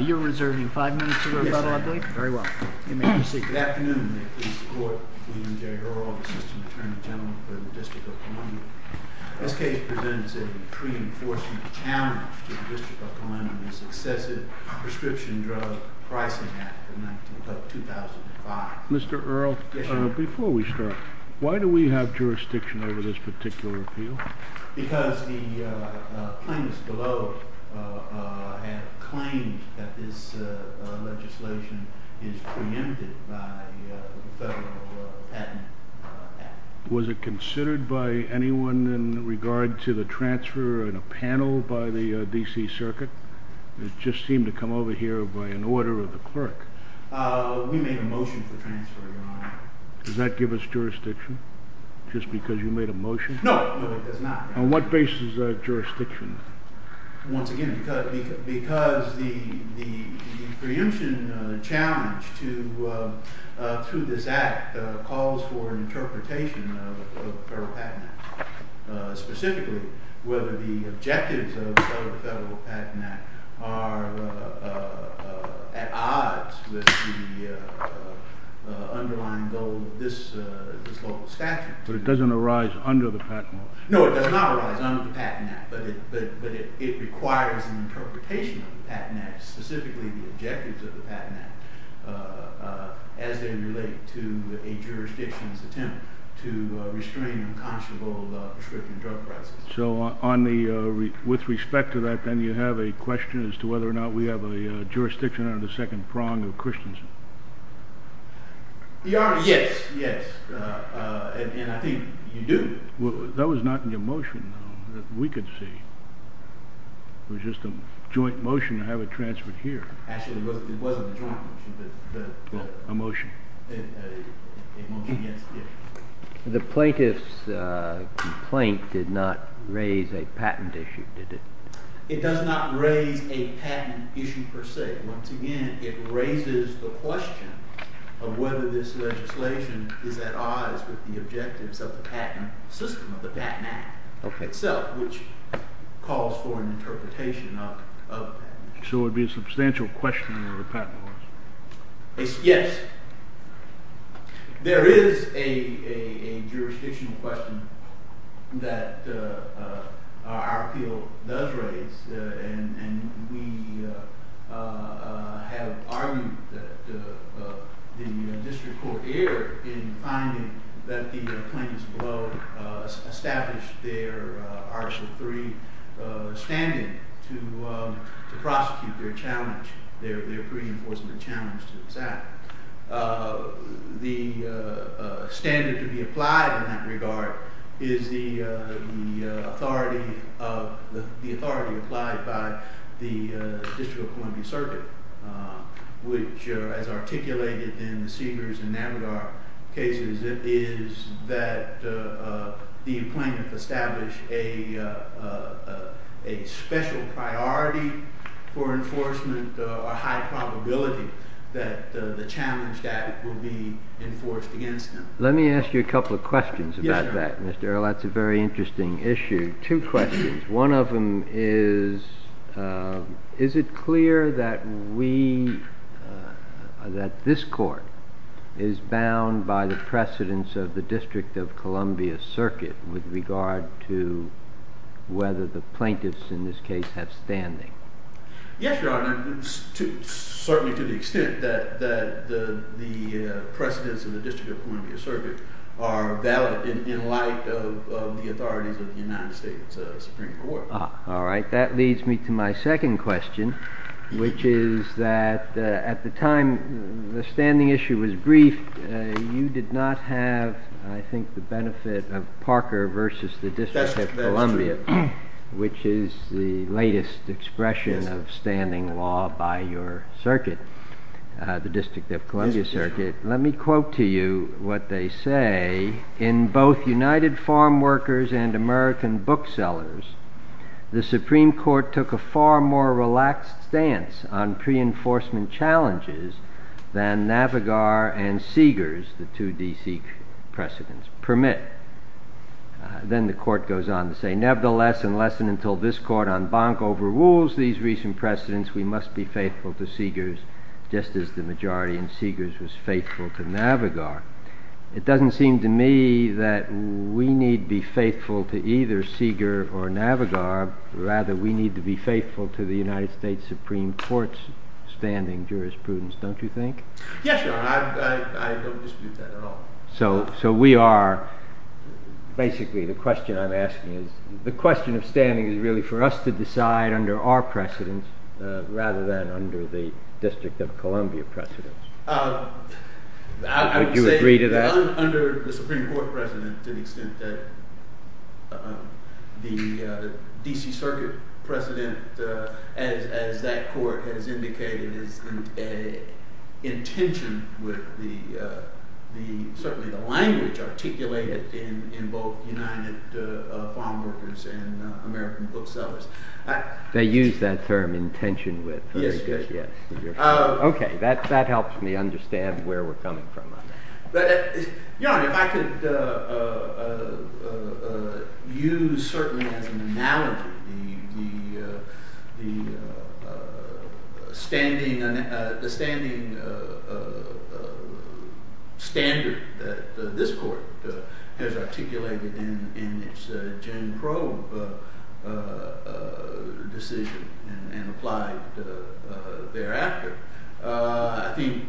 You're reserving five minutes to go, by the way. Very well. Good afternoon. Mr. Earle, before we start, why do we have jurisdiction over this particular appeal? Because the plaintiffs below have claimed that this legislation is preempted by the Federal Patent Act. Was it considered by anyone in regard to the transfer in a panel by the D.C. Circuit? It just seemed to come over here by an order of the clerk. We made a motion to transfer, Your Honor. Does that give us jurisdiction, just because you made a motion? No, it does not. On what basis is that jurisdiction? Once again, because the preemption challenge to this act calls for interpretation of the Federal Patent Act. Specifically, whether the objectives of the Federal Patent Act are at odds with the underlying goal of this statute. So it doesn't arise under the Patent Act? No, it does not arise under the Patent Act. But it requires an interpretation of the Patent Act, specifically the objectives of the Patent Act, as they relate to a jurisdiction's attempt to restrain the constable of prescription drug prices. So with respect to that, then, you have a question as to whether or not we have a jurisdiction on the second prong of Christensen? Your Honor, yes, yes. And I think you do. That was not in your motion, though, that we could see. It was just a joint motion to have it transferred here. Actually, it was a joint motion. A motion. A motion, yes. The plaintiff's complaint did not raise a patent issue, did it? It does not raise a patent issue per se. Once again, it raises the question of whether this legislation is at odds with the objectives of the patent system, of the Patent Act itself, which calls for an interpretation of that. So it would be a substantial question of the patent laws? Yes. There is a jurisdictional question that our field does raise. And we have argued that the district court erred in finding that the plaintiffs will establish their arbitral free standing to prosecute their challenge, their free enforcement challenge. The standard to be applied in that regard is the authority applied by the district court circuit, which, as articulated in the Cedars and Navarro cases, is that the plaintiff established a special priority for enforcement, a high probability that the challenge that will be enforced against them. Let me ask you a couple of questions about that, Mr. Earle. That's a very interesting issue. Two questions. One of them is, is it clear that this court is bound by the precedence of the District of Columbia Circuit with regard to whether the plaintiffs, in this case, have standing? Yes, Your Honor, certainly to the extent that the precedence of the District of Columbia Circuit are valid in light of the authorities of the United States Supreme Court. All right. That leads me to my second question, which is that at the time the standing issue was briefed, you did not have, I think, the benefit of Parker versus the District of Columbia, which is the latest expression of standing law by your circuit, the District of Columbia Circuit. Let me quote to you what they say. In both United Farm Workers and American booksellers, the Supreme Court took a far more relaxed stance on pre-enforcement challenges than Navigar and Cedars, the two D.C. precedents, permit. Then the court goes on to say, nevertheless, unless and until this court en banc overrules these recent precedents, we must be faithful to Cedars, just as the majority in Cedars was faithful to Navigar. It doesn't seem to me that we need be faithful to either Cedar or Navigar. Rather, we need to be faithful to the United States Supreme Court's standing jurisprudence, don't you think? Yes, Your Honor. I don't dispute that at all. So we are, basically, the question I'm asking is, the question of standing is really for us to decide under our precedents rather than under the District of Columbia precedents. Would you agree to that? Under the Supreme Court precedents, to the extent that the D.C. Circuit precedent, as that court has indicated, is an intention with the language articulated in both United Farm Workers and American booksellers. They use that term, intention with. Yes, yes. OK. That helps me understand where we're coming from. Your Honor, if I could use, certainly, an analogy, the standing standard that this court has articulated in its Jenning probe decision and applied thereafter. I think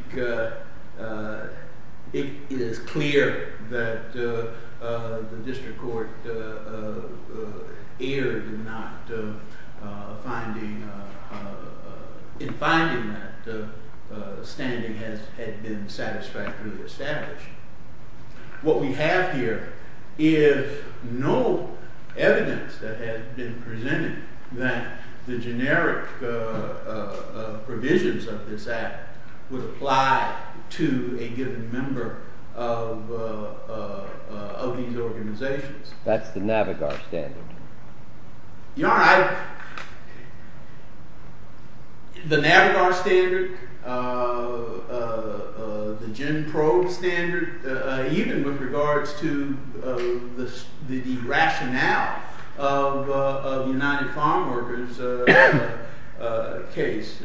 it is clear that the district court erred in finding that the standing had been satisfactorily established. What we have here is no evidence that has been presented that the generic provisions of this act would apply to a given member of these organizations. That's the NAVIGAR standard. Your Honor, the NAVIGAR standard, the Jenning probe standard, even with regards to the rationale of the United Farm Workers case,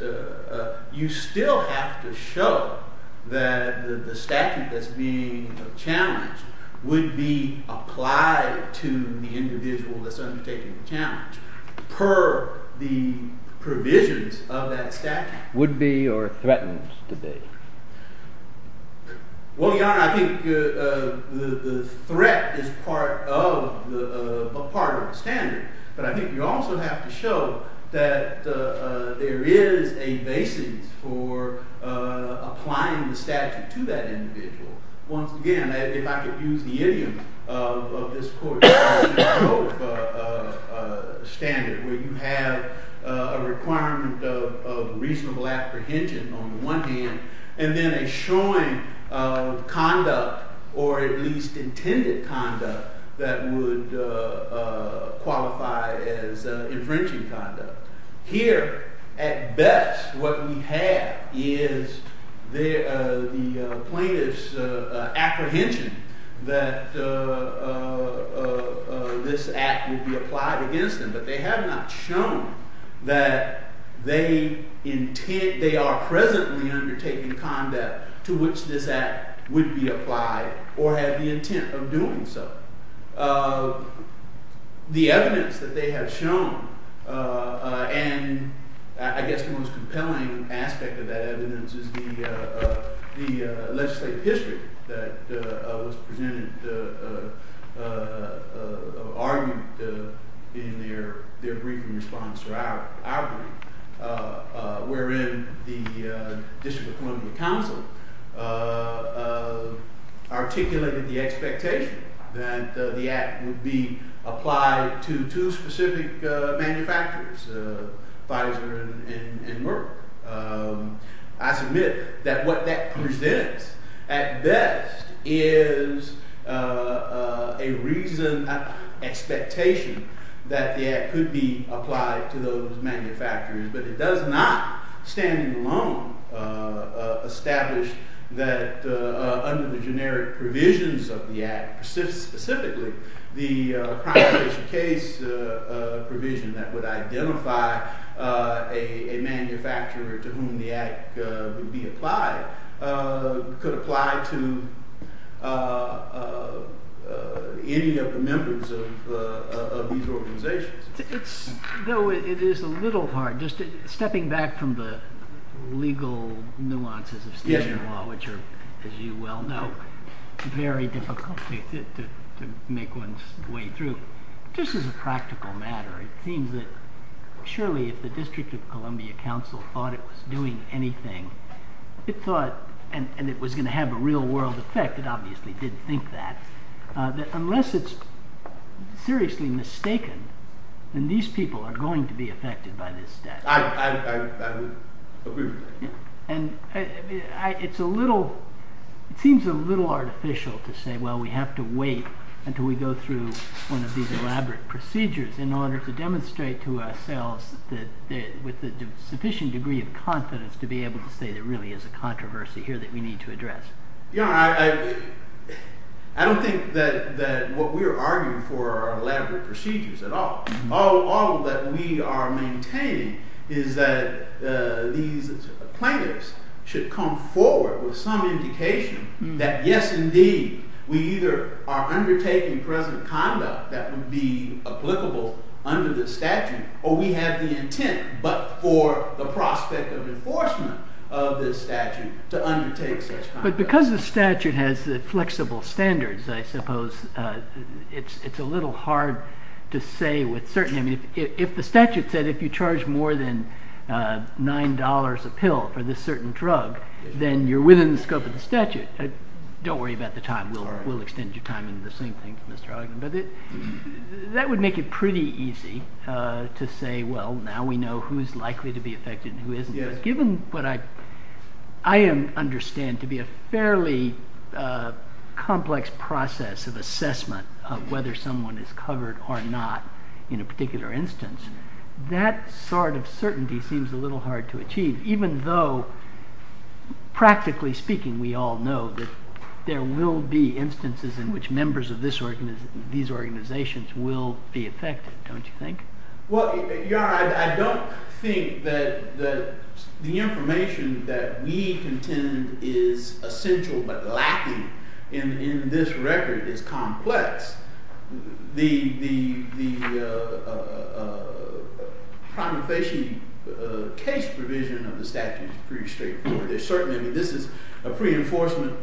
you still have to show that the statute that's being challenged would be applied to the individual that's undertaking the challenge per the provisions of that statute. Would be or threatens to be. Well, Your Honor, I think the threat is part of the standard. But I think you also have to show that there is a basis for applying the statute to that individual. Once again, if I could use the image of this court's standard, where you have a requirement of reasonable apprehension on the one hand, and then a showing of conduct, or at least intended conduct, that would qualify as infringing conduct. Here, at best, what we have is the plaintiff's apprehension that this act would be applied against them. But they have not shown that they are present in the undertaking of conduct to which this act would be applied or have the intent of doing so. The evidence that they have shown, and I guess the most compelling aspect of that evidence is the legislative district that presented an argument in their brief response to our point, wherein the District Appointment Council articulated the expectation that the act would be applied to two specific manufacturers, Pfizer and Merck. I submit that what that presents, at best, is a reasonable expectation that the act could be applied to those manufacturers. But it does not, standing alone, establish that under the generic provisions of the act, specifically the prior case provision that would identify a manufacturer to whom the act would be applied, could apply to any of the members of these organizations. Though it is a little hard, just stepping back from the legal nuances of state law, which are, as you well know, very difficult to make one's way through, this is a practical matter. It seems that, surely, if the District of Columbia Council thought it was doing anything, and it was going to have a real-world effect, it obviously did think that, that unless it's seriously mistaken, then these people are going to be affected by this death. I agree with that. It seems a little artificial to say, well, we have to wait until we go through one of these elaborate procedures in order to demonstrate to ourselves, with a sufficient degree of confidence, to be able to say there really is a controversy here that we need to address. I don't think that what we're arguing for are elaborate procedures at all. All that we are maintaining is that these plaintiffs should come forward with some indication that, yes, indeed, we either are undertaking present conduct that would be applicable under the statute, or we have the intent, but for the prospect of enforcement of the statute, to undertake such conduct. But because the statute has the flexible standards, I suppose, it's a little hard to say with certainty. If the statute said if you charge more than $9 a pill for this certain drug, then you're within the scope of the statute. Don't worry about the time. We'll extend your time. That would make it pretty easy to say, well, now we know who is likely to be affected and who isn't. Given what I understand to be a fairly complex process of assessment of whether someone is covered or not in a particular instance, that sort of certainty seems a little hard to achieve, even though, practically speaking, we all know that there will be instances in which members of these organizations will be affected, don't you think? Well, Your Honor, I don't think that the information that we contend is essential, but lacking in this record is complex. The promulgation case provision of the statute is pretty straightforward. Certainly, this is a pre-enforcement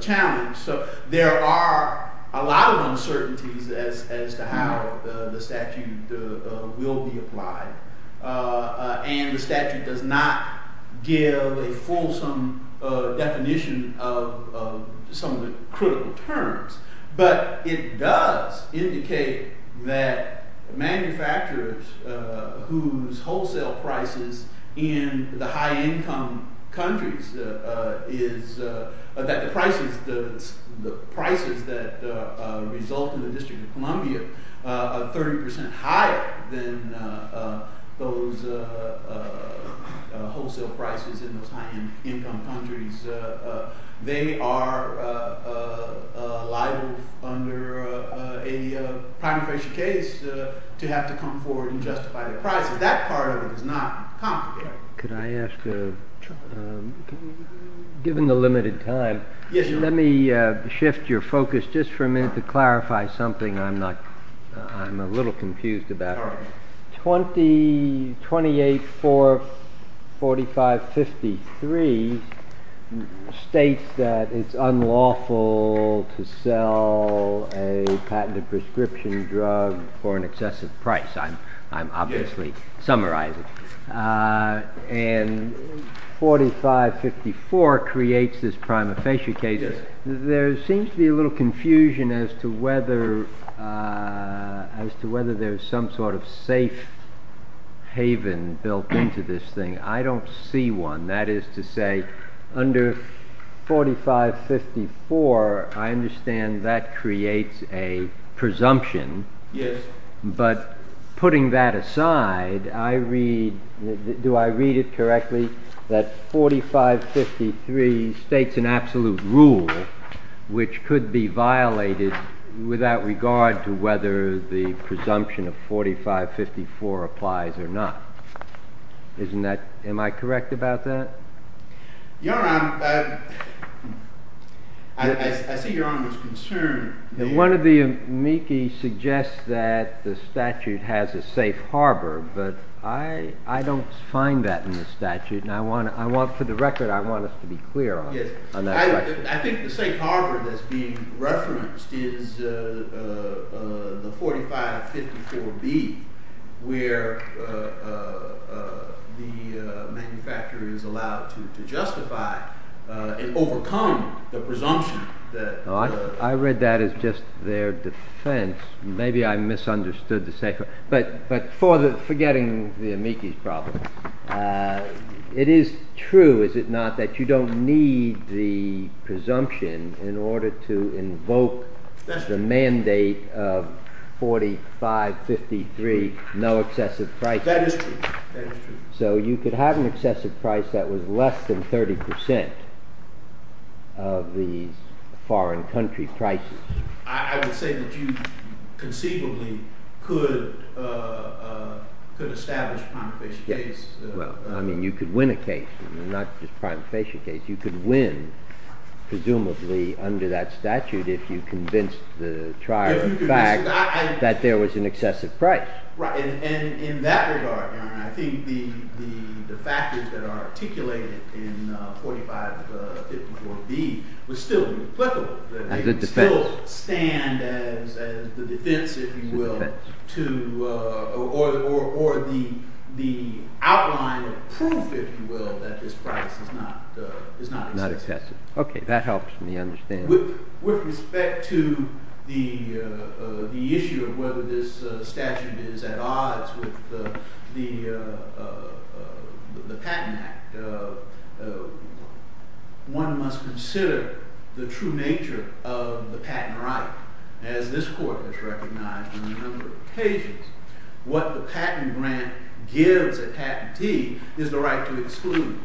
challenge, so there are a lot of uncertainties as to how the statute will be applied. And the statute does not give a fulsome definition of some of the critical terms. But it does indicate that manufacturers whose wholesale prices in the high-income countries is – that the prices that result in the District of Columbia are 30 percent higher than those wholesale prices in the high-income countries. They are liable under a promulgation case to have to come forward and justify their prices. That part of it is not complicated. Could I ask, given the limited time, let me shift your focus just for a minute to clarify something I'm a little confused about. 28.445.53 states that it's unlawful to sell a patented prescription drug for an excessive price. I'm obviously summarizing. And 45.54 creates this prima facie case. There seems to be a little confusion as to whether there's some sort of safe haven built into this thing. I don't see one. That is to say, under 45.54, I understand that creates a presumption. But putting that aside, do I read it correctly that 45.53 states an absolute rule which could be violated without regard to whether the presumption of 45.54 applies or not? Am I correct about that? Your Honor, I see Your Honor's concern. One of the amici suggests that the statute has a safe harbor. But I don't find that in the statute. And for the record, I want us to be clear on that. I think the safe harbor that's being referenced is the 45.54B, where the manufacturer is allowed to justify and overcome the presumption. I read that as just their defense. But forgetting the amici's problem, it is true, is it not, that you don't need the presumption in order to invoke the mandate of 45.53, no excessive price. That is true. So you could have an excessive price that was less than 30% of the foreign country prices. I would say that you, conceivably, could establish primary case. Well, I mean, you could win a case, not just a primary case. You could win, presumably, under that statute if you convinced the trial of fact that there was an excessive price. Right. And in that regard, Your Honor, I think the factors that are articulated in 45.54B would still be applicable. As a defense. They would still stand as the defense, if you will, or the outline of proof, if you will, that this price is not excessive. Not excessive. OK, that helps me understand. With respect to the issue of whether this statute is at odds with the Patent Act, one must consider the true nature of the patent right. As this court has recognized on a number of occasions, what the patent grant gives a patentee is the right to exclude.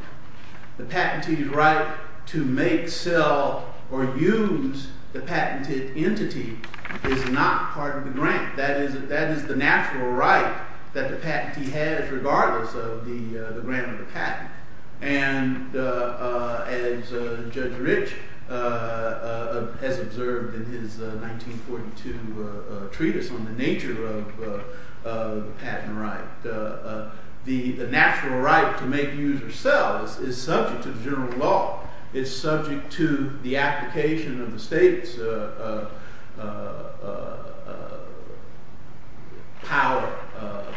The patentee's right to make, sell, or use the patented entity is not part of the grant. That is the natural right that the patentee has regardless of the grant of the patent. And as Judge Rich has observed in his 1942 treatise on the nature of patent rights, the natural right to make, use, or sell is subject to the general law. It's subject to the application of the state's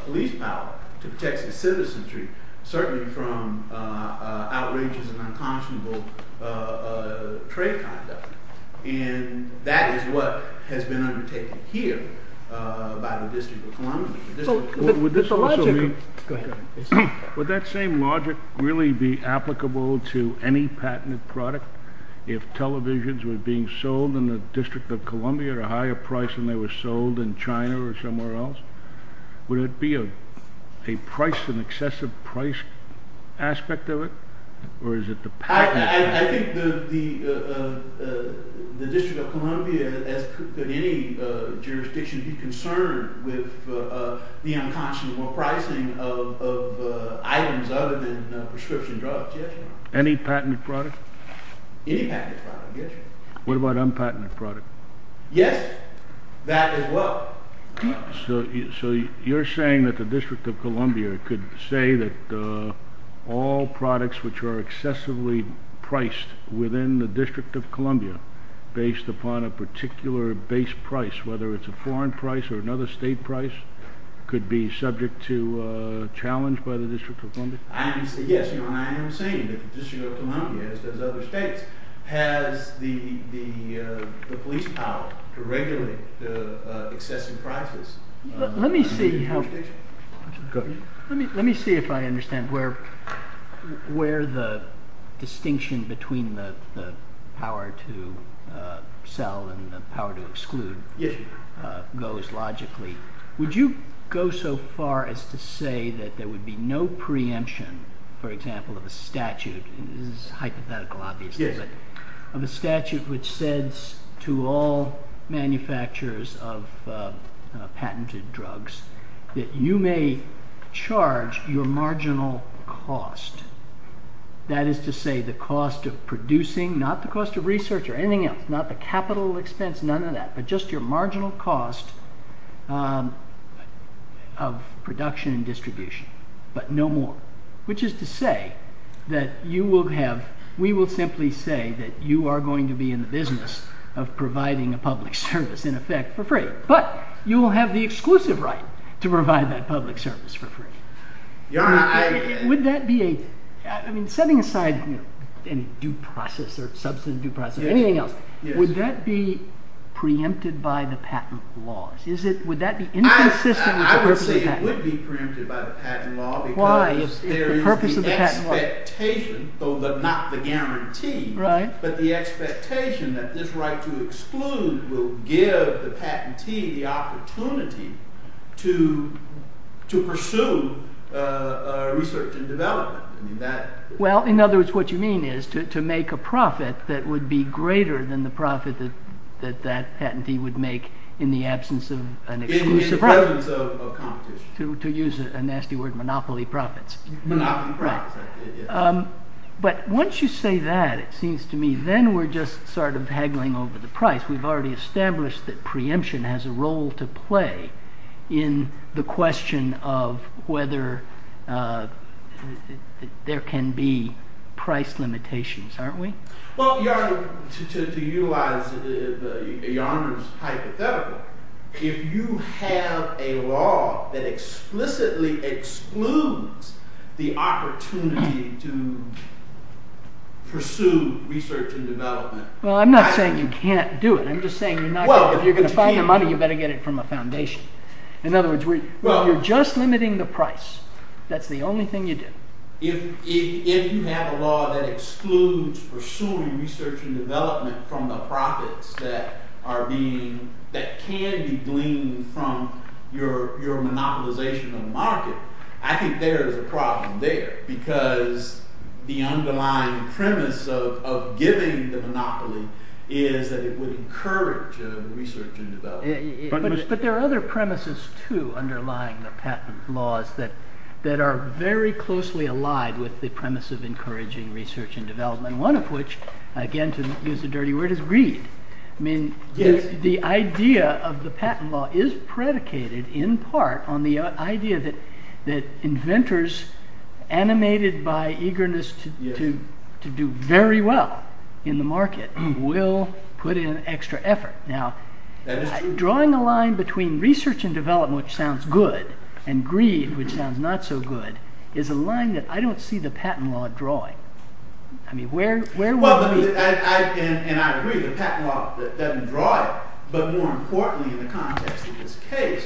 police power to protect the citizenry, certainly from outrageous and unconscionable trade conduct. And that is what has been undertaken here by the District of Columbia. Would that same logic really be applicable to any patented product? If televisions were being sold in the District of Columbia at a higher price than they were sold in China or somewhere else, would it be an excessive price aspect of it? I think the District of Columbia, as could any jurisdiction, would be concerned with the unconscionable pricing of items other than prescription drugs, yes. Any patented product? Any patented product, yes. What about unpatented products? Yes, that as well. So you're saying that the District of Columbia could say that all products which are excessively priced within the District of Columbia, based upon a particular base price, whether it's a foreign price or another state price, could be subject to challenge by the District of Columbia? Yes, I am saying that the District of Columbia, as does other states, has the police power to regulate the excessive prices. Let me see if I understand where the distinction between the power to sell and the power to exclude goes logically. Would you go so far as to say that there would be no preemption, for example, of a statute which says to all manufacturers of patented drugs that you may charge your marginal cost, that is to say the cost of producing, not the cost of research or anything else, not the capital expense, none of that, but just your marginal cost, of production and distribution, but no more. Which is to say that you will have, we will simply say that you are going to be in the business of providing a public service, in effect, for free. But you will have the exclusive right to provide that public service for free. Would that be a, I mean, setting aside any due process or substantive due process or anything else, would that be preempted by the patent law? I would say it would be preempted by the patent law. Why? It's the purpose of the patent law. Well, in other words, what you mean is to make a profit that would be greater than the profit that that patentee would make in the absence of an exclusive right. In the presence of competition. To use a nasty word, monopoly profits. Monopoly profits. Right. But once you say that, it seems to me then we're just sort of haggling over the price. We've already established that preemption has a role to play in the question of whether there can be price limitations, aren't we? Well, Your Honor, to you as a private developer, if you have a law that explicitly excludes the opportunity to pursue research and development. Well, I'm not saying you can't do it. I'm just saying if you're going to find the money, you better get it from a foundation. In other words, you're just limiting the price. That's the only thing you do. If you have a law that excludes pursuing research and development from the profits that can be gleaned from your monopolization of the market, I think there is a problem there. Because the underlying premise of giving the monopoly is that it would encourage research and development. But there are other premises, too, underlying the patent laws that are very closely aligned with the premise of encouraging research and development. One of which, again, to use a dirty word, is greed. I mean, the idea of the patent law is predicated in part on the idea that inventors animated by eagerness to do very well in the market will put in extra effort. Now, drawing a line between research and development, which sounds good, and greed, which sounds not so good, is a line that I don't see the patent law drawing. I mean, where would it be? Well, and I agree with the patent law that doesn't draw it. But more importantly in the context of this case,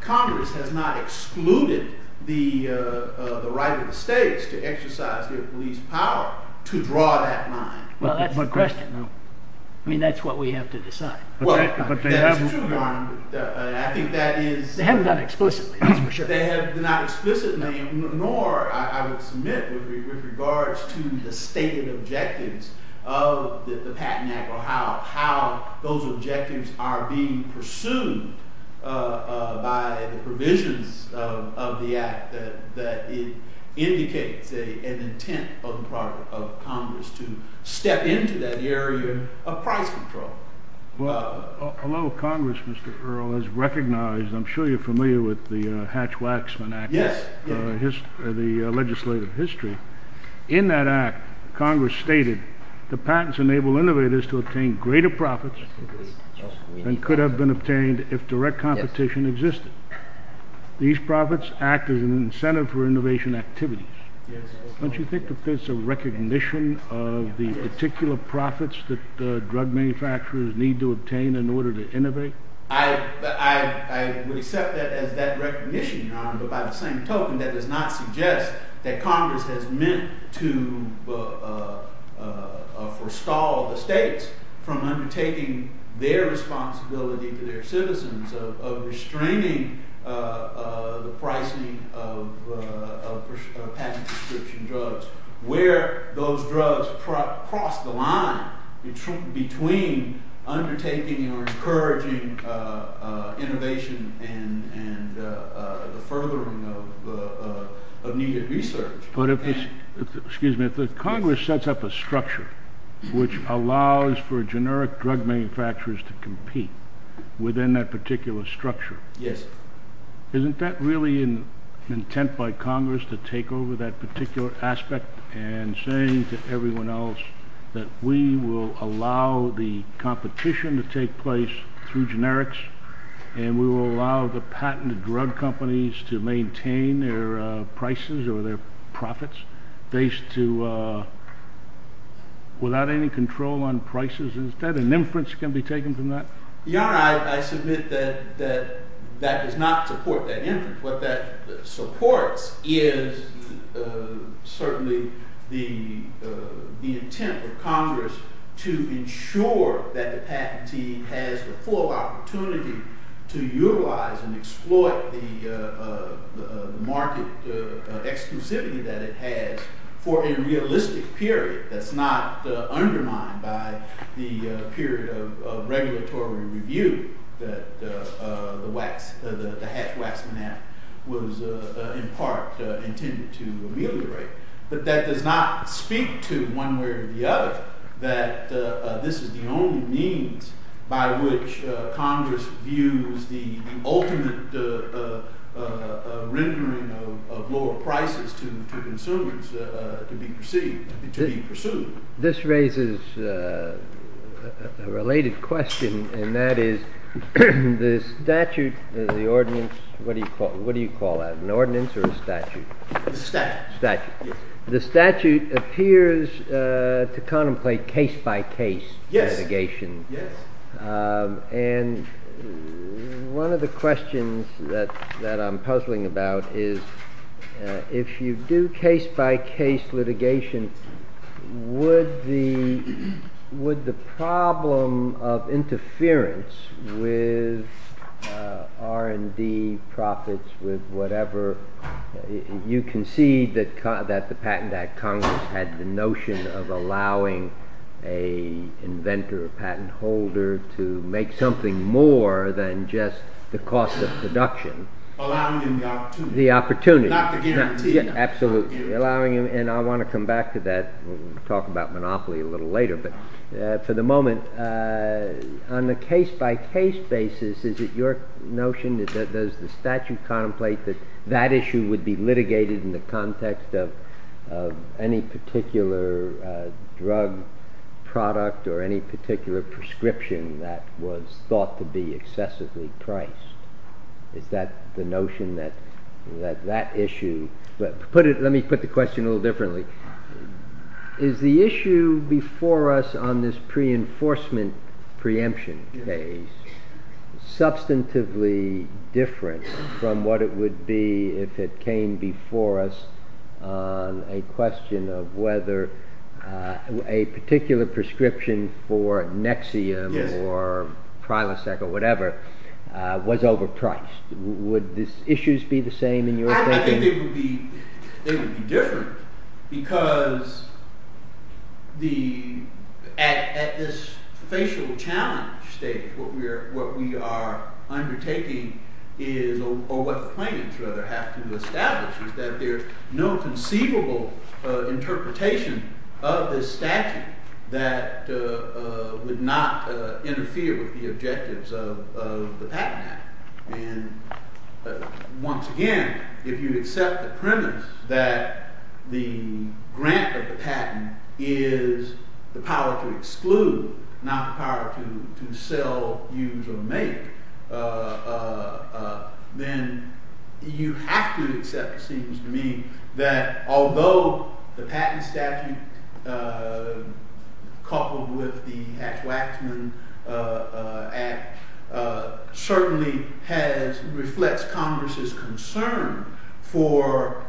Congress has not excluded the right of the states to exercise their police power to draw that line. Well, that's my question. I mean, that's what we have to decide. Well, a lot of Congress, Mr. Earle, has recognized, I'm sure you're familiar with the Hatch-Waxman Act, the legislative history. In that act, Congress stated, the patents enable innovators to obtain greater profits than could have been obtained if direct competition existed. These profits act as an incentive for innovation activities. Don't you think that there's a recognition of the particular profits that drug manufacturers need to obtain in order to innovate? I would accept that as that recognition, but by the same token, that does not suggest that Congress has meant to forestall the states from undertaking their responsibility to their citizens of restraining the pricing of patent prescription drugs. Where those drugs cross the line between undertaking and encouraging innovation and the furthering of immediate research. But if Congress sets up a structure which allows for generic drug manufacturers to compete within that particular structure, Isn't that really an intent by Congress to take over that particular aspect and saying to everyone else that we will allow the competition to take place through generics, and we will allow the patented drug companies to maintain their prices or their profits without any control on prices? Is that an inference that can be taken from that? Your Honor, I submit that that does not support that inference. What that supports is certainly the intent of Congress to ensure that the patent team has the full opportunity to utilize and exploit the market extensively that it has for a realistic period. That's not undermined by the period of regulatory review that the HECWAC format was, in part, intended to alleviate. But that does not speak to, one way or the other, that this is the only means by which Congress views the ultimate rendering of lower prices to consumers to be pursued. This raises a related question, and that is, the statute, the ordinance, what do you call that, an ordinance or a statute? The statute. The statute. The statute appears to contemplate case-by-case litigation. Yes. And one of the questions that I'm puzzling about is, if you do case-by-case litigation, would the problem of interference with R&D profits, with whatever, you concede that Congress had the notion of allowing an inventor, a patent holder, to make something more than just the cost of production. Allowing them the opportunity. The opportunity. Not to give them the opportunity. Absolutely. And I want to come back to that. We'll talk about monopoly a little later. But for the moment, on the case-by-case basis, is it your notion, does the statute contemplate that that issue would be litigated in the context of any particular drug product or any particular prescription that was thought to be excessively priced? Is that the notion that that issue... Let me put the question a little differently. Is the issue before us on this pre-enforcement preemption phase substantively different from what it would be if it came before us on a question of whether a particular prescription for Nexium or Prilosec or whatever was overpriced? Would the issues be the same in your thinking? It would be different. Because at this facial challenge stage, what we are undertaking or what the plaintiffs would have to establish is that there's no conceivable interpretation of the statute that would not interfere with the objectives of the patent act. Once again, if you accept the premise that the grant of the patent is the power to exclude, not the power to sell, use, or make, then you have to accept the sequence to mean that although the patent statute, coupled with the Tax Waxman Act, certainly reflects Congress's concern for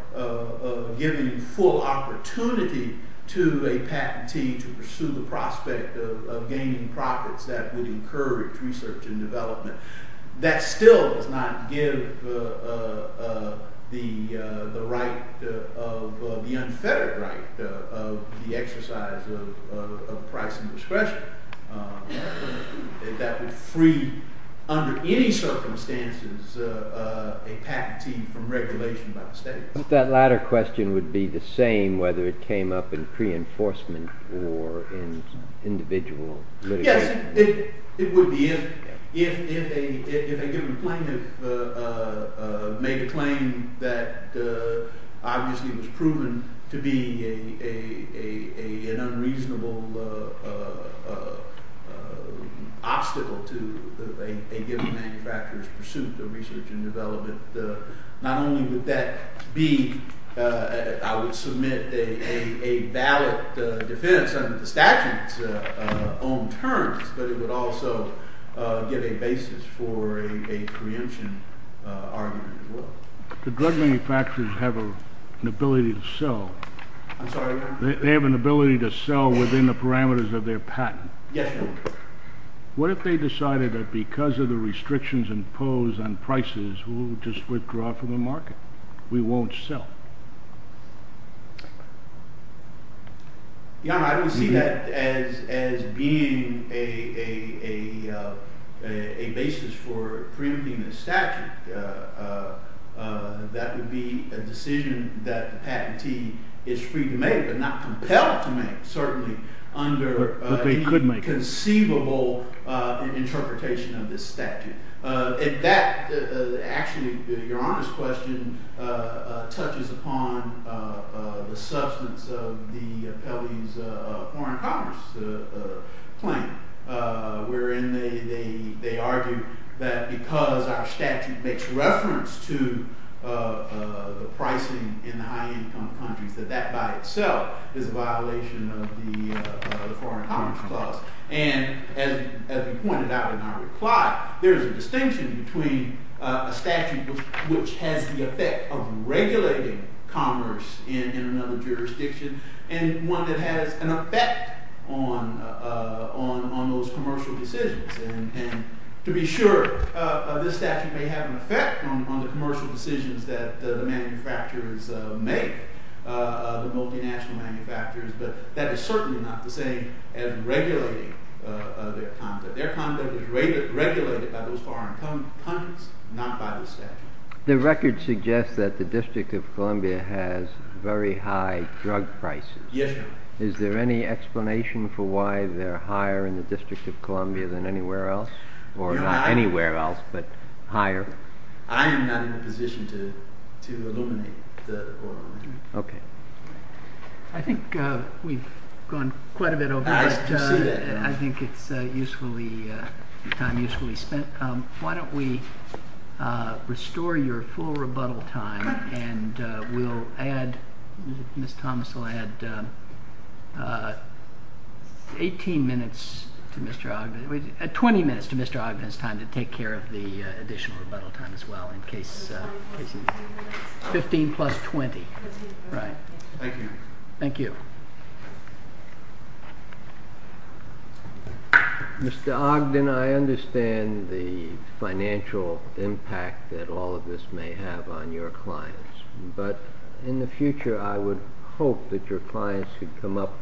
giving full opportunity to a patentee to pursue the prospect of gaining profits that would encourage research and development, that still does not give the unfettered right of the exercise of price and discretion that would free, under any circumstances, a patentee from regulation by the state. But that latter question would be the same whether it came up in pre-enforcement or in individual litigation. It would be if a given plaintiff made a claim that obviously was proven to be an unreasonable obstacle to a given manufacturer's pursuit of research and development. Not only would that be, I would submit, a valid defense under the statute's own terms, but it would also give a basis for a preemption argument as well. The drug manufacturers have an ability to sell. I'm sorry? They have an ability to sell within the parameters of their patent. Yes. What if they decided that because of the restrictions imposed on prices, we'll just withdraw from the market? We won't sell. I don't see that as being a basis for preempting the statute. That would be a decision that the patentee is free to make, but not compelled to make, certainly under a conceivable interpretation of the statute. Actually, Your Honor's question touches upon the substance of the appellee's foreign commerce claim, wherein they argue that because our statute makes reference to the pricing in the high-income countries, that that by itself is a violation of the foreign commerce clause. As we pointed out in our reply, there's a distinction between a statute which has the effect of regulating commerce in another jurisdiction and one that has an effect on those commercial decisions. To be sure, this statute may have an effect on the commercial decisions that the manufacturers make, the multinational manufacturers, but that is certainly not the same as regulating their content. Their content is regulated by those foreign countries, not by the statute. The record suggests that the District of Columbia has very high drug prices. Yes, Your Honor. Is there any explanation for why they're higher in the District of Columbia than anywhere else? Or not anywhere else, but higher? I'm not in a position to illuminate the Columbia. Okay. I think we've gone quite a bit over, but I think it's time usefully spent. Why don't we restore your full rebuttal time, and Ms. Thomas will add 20 minutes to Mr. Ogden's time to take care of the additional rebuttal time as well, in case 15 plus 20. Thank you. Mr. Ogden, I understand the financial impact that all of this may have on your clients, but in the future I would hope that your clients could come up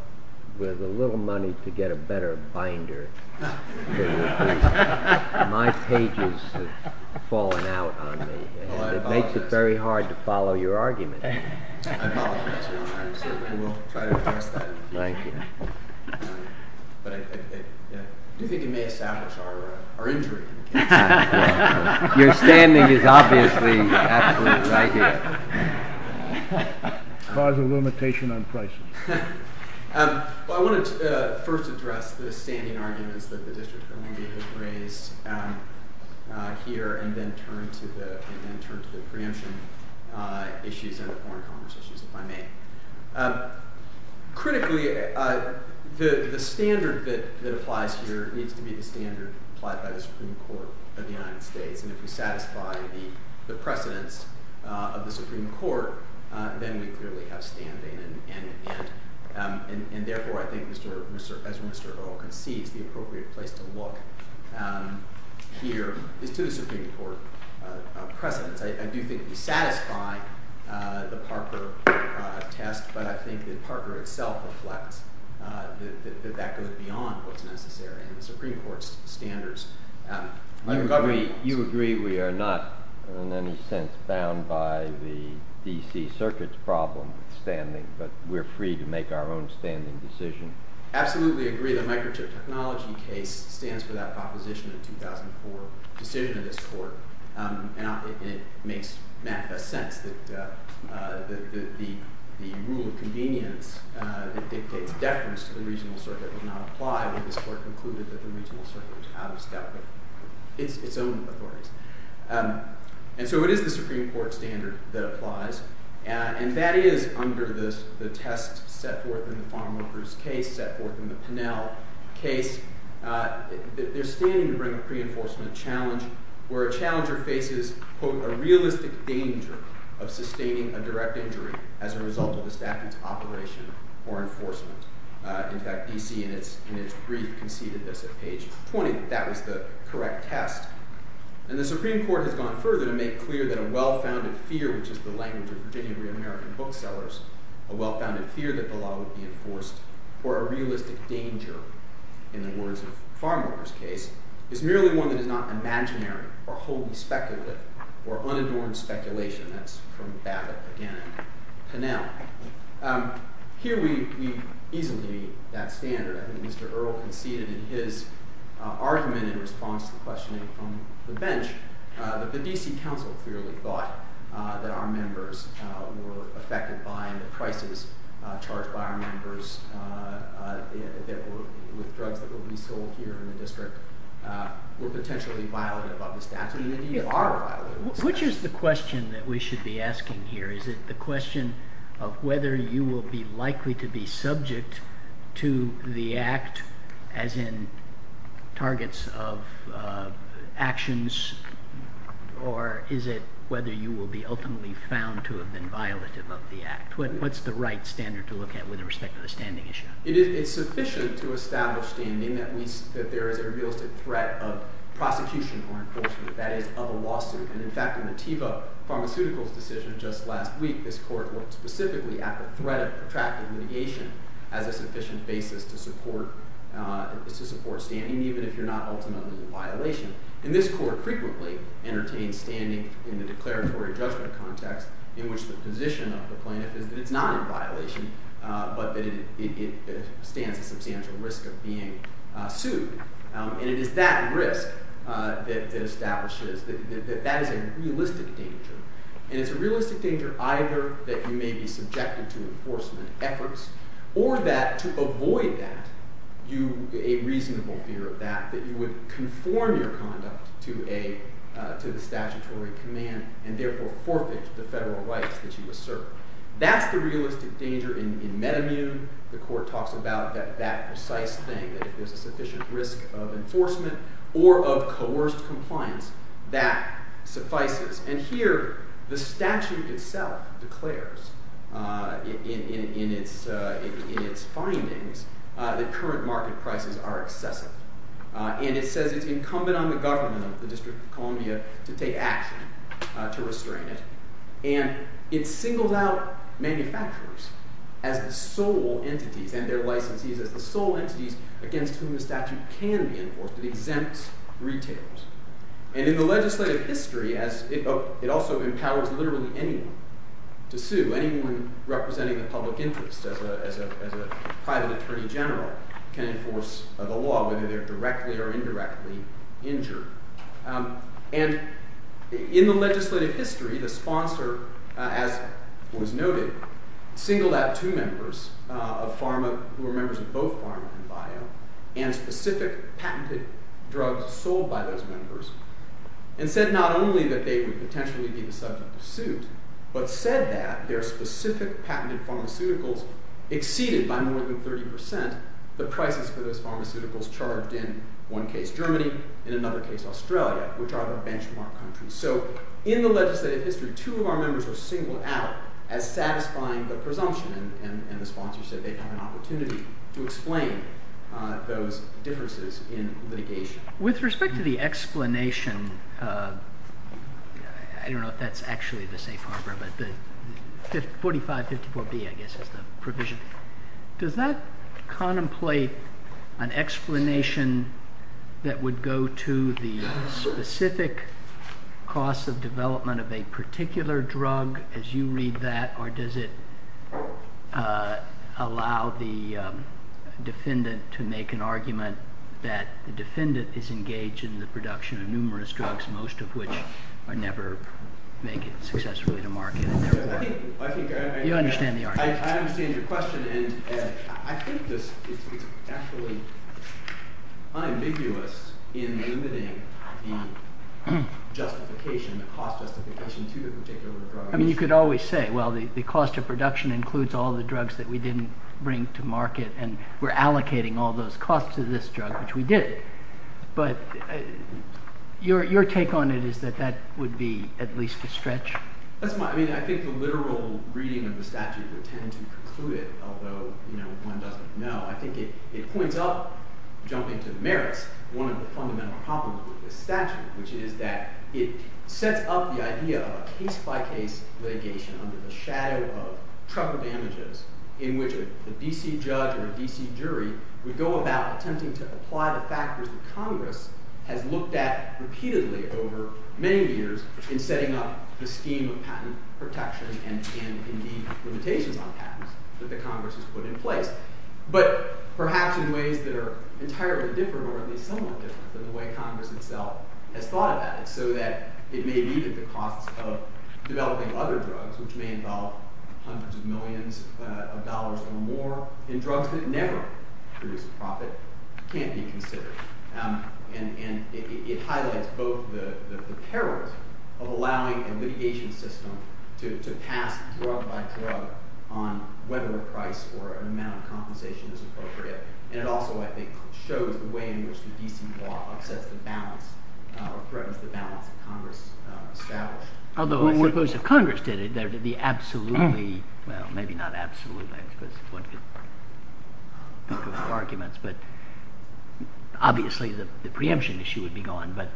with a little money to get a better binder. My pages have fallen out on me, and it makes it very hard to follow your arguments. I apologize, Your Honor. I certainly will try to justify it. Thank you. But I think it may establish our interest. Your standing is obviously excellent right here. Cause of limitation on pricing. I want to first address the standing arguments that the District Attorney has raised here, and then turn to the preemption issues that have fallen on me. Critically, the standard that applies here needs to be the standard applied by the Supreme Court of the United States. And if you satisfy the precedence of the Supreme Court, then you clearly have standing in the case. And therefore, I think Mr. Ogden, he's the appropriate place to look here. This is Supreme Court precedent. I do think you satisfy the Parker test, but I think that Parker itself reflects that that goes beyond what's necessary in the Supreme Court's standards. You agree we are not, in any sense, bound by the D.C. Circuit's problem of standing, but we're free to make our own standing decision? I absolutely agree the Microchip Technology case stands for that proposition in the 2004 decision of this Court. And I don't think it makes that much sense. The rule of convenience, it's a deference to the Reasonable Circuit cannot apply when this Court concluded that the Reasonable Circuit was bound by its own authority. And so it is the Supreme Court standard that applies. And that is under the test set forth in the Farm Workers case, set forth in the Pinnell case. They're standing to bring a pre-enforcement challenge where a challenger faces, quote, a realistic danger of sustaining a direct injury as a result of a staffed operation or enforcement. In fact, D.C. in its brief conceded at that point that that was the correct test. And the Supreme Court has gone further and made clear that a well-founded fear, which is the language of Virginia American booksellers, a well-founded fear that the law would be enforced for a realistic danger, in the words of the Farm Workers case, is merely one that is not imaginary or holding speculative or unadorned speculation. That's from that in Pinnell. Here we've easily made that standard. I think Mr. Earle conceded in his argument in response to questioning from the bench that the D.C. Council clearly thought that our members were affected by the crisis, charged by our members with threats that will be sold here in the district, were potentially violent about the staff. And they are violent. Which is the question that we should be asking here? Is it the question of whether you will be likely to be subject to the Act as in targets of actions, or is it whether you will be ultimately found to have been violent about the Act? What's the right standard to look at with respect to the standing issue? It's sufficient to establish the ending that means that there is a realistic threat of prostitution or enforcement. That is, of a lawsuit. And in fact, in the Teva Pharmaceuticals decision just last week, this court looked specifically at the threat of protracted litigation as a sufficient basis to support standing, even if you're not ultimately in violation. And this court frequently entertains standing in the declaratory judgment context, in which the position of the plaintiff is that it's not in violation, but that it stands a risk of being sued. And it's that risk that establishes that that is a realistic danger. And it's a realistic danger either that you may be subjected to enforcement efforts, or that to avoid that, a reasonable fear of that, that you would conform your conduct to the statutory command, and therefore forfeit the federal rights which you assert. That's the realistic danger in metamu. The court talks about that that decisive thing, that there's a sufficient risk of enforcement or of coerced compliance that suffices. And here, the statute itself declares in its findings that current market prices are excessive. And it says it's incumbent on the government of the District of Columbia to take action to restrain it. And it singles out manufacturers as the sole entity, and their licensees as the sole entity against whom the statute can be enforced. It exempts retailers. And in the legislative history, it also empowers literally anyone to sue, anyone representing a public interest as a private attorney general can enforce the law, whether they're directly or indirectly injured. And in the legislative history, the sponsor, as was noted, singled out two members of pharma who were members of both pharma and bio, and specific patented drugs sold by those members, and said not only that they would potentially be subject to suit, but said that their specific patented pharmaceuticals exceeded by more than 30% the prices for those pharmaceuticals charged in one case, Germany, and in another case, Australia, which are the benchmark countries. So in the legislative history, two of our members were singled out as satisfying the presumption, and the sponsor said they had an opportunity to explain those differences in litigation. With respect to the explanation, I don't know if that's actually the state program, but 4554B, I guess, is the provision. Does that contemplate an explanation that would go to the specific cost of development of a particular drug, as you read that, or does it allow the defendant to make an argument that the defendant is engaged in the production of numerous drugs, most of which are never made successfully to market? You understand the argument. I understand your question, and I think this is absolutely ambiguous in limiting the justification, the cost justification to a particular drug. I mean, you could always say, well, the cost of production includes all the drugs that we didn't bring to market, and we're allocating all those costs to this drug, which we did. But your take on it is that that would be at least a stretch? That's not—I mean, I think the literal reading of the statute is intended to conclude it, although, you know, one doesn't know. I think it points out, jumping to the merits, one of the fundamental problems with this statute, which is that it sets up the idea of case-by-case litigation under the shadow of trucker damages, in which a D.C. judge or a D.C. jury would go about attempting to apply the factors that Congress has looked at repeatedly over many years in setting up the scheme of patent protection and in the implementation of patents that Congress has put in place, but perhaps in ways that are entirely different or at least somewhat different than the way Congress itself has thought of it, so that it may lead to the cost of developing other drugs, which may involve hundreds of millions of dollars or more, and drugs that never produce profit can't be considered. And it highlights both the terrorism of allowing a litigation system to pass drug-by-drug on whether a price or an amount of compensation is appropriate, and it also, I think, shows the way in which the D.C. law sets the balance or threatens the balance that Congress established. Although, if Congress did it, there would be absolutely—well, maybe not absolutely, because it's one of those arguments, but obviously the preemption issue would be gone, but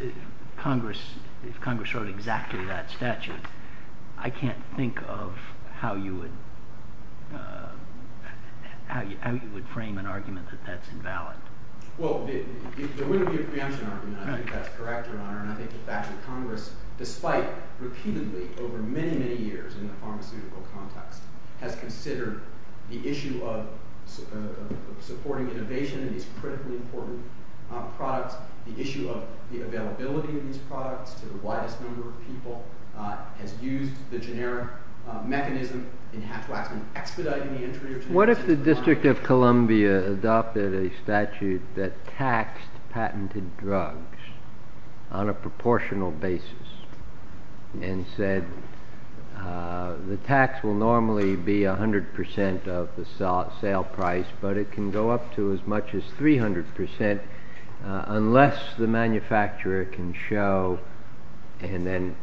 if Congress wrote exactly that statute, I can't think of how you would frame an argument that that's invalid. Well, there would be a preemption argument. I think that's correct. Congress, despite—repeatedly over many, many years in the pharmaceutical context— has considered the issue of supporting innovation in these critically important products, the issue of the availability of these products to the widest number of people, has used the generic mechanism and has, frankly, expedited the entry of— What if the District of Columbia adopted a statute that taxed patented drugs on a proportional basis and said the tax will normally be 100 percent of the sale price, but it can go up to as much as 300 percent unless the manufacturer can show and then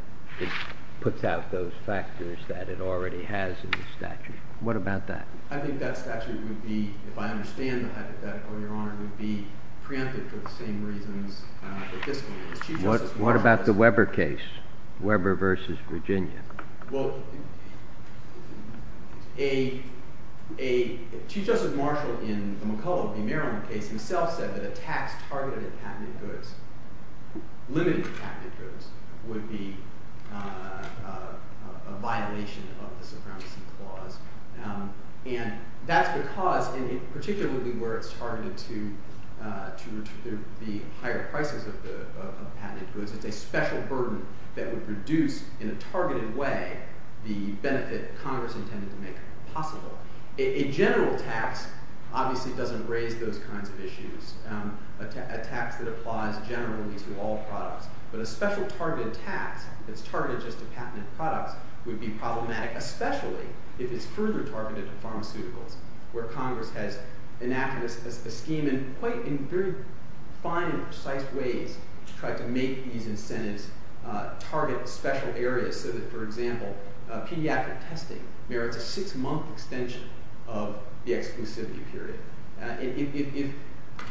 puts out those factors that it already has in the statute? What about that? I think that statute would be—if I understand the hypothetical, Your Honor— would be preempted for the same reason that this one. What about the Weber case, Weber v. Virginia? Well, Chief Justice Marshall in McCulloch's demerit case himself said that a tax targeted at patented goods, limited to patented goods, would be a violation of the Brown v. Claus. And that's because, and particularly where it's targeted to the higher prices of patented goods, it's a special burden that would reduce, in a targeted way, the benefit that Congress intended to make possible. A general tax obviously doesn't raise those kinds of issues. A tax that applies generally to all products. But a special targeted tax that's targeted to patented products would be problematic, especially if it's further targeted to pharmaceuticals, where Congress has enacted a scheme in quite a very fine and precise way to try to make these incentives target special areas, so that, for example, pediatric testing merits a six-month extension of the exclusivity period. If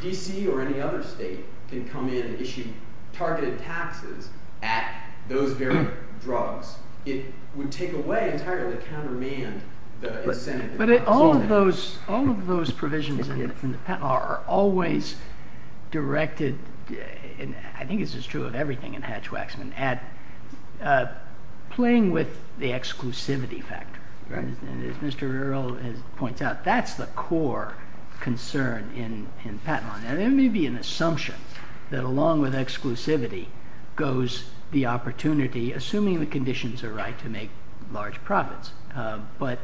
D.C. or any other state can come in and issue targeted taxes at those very drugs, it would take away entirely the countermeasure incentive. But all of those provisions in the patent law are always directed, and I think this is true of everything in Hatch-Waxman, at playing with the exclusivity factor. As Mr. Earle has pointed out, that's the core concern in patent law. Now, there may be an assumption that along with exclusivity goes the opportunity, assuming the conditions are right, to make large profits. But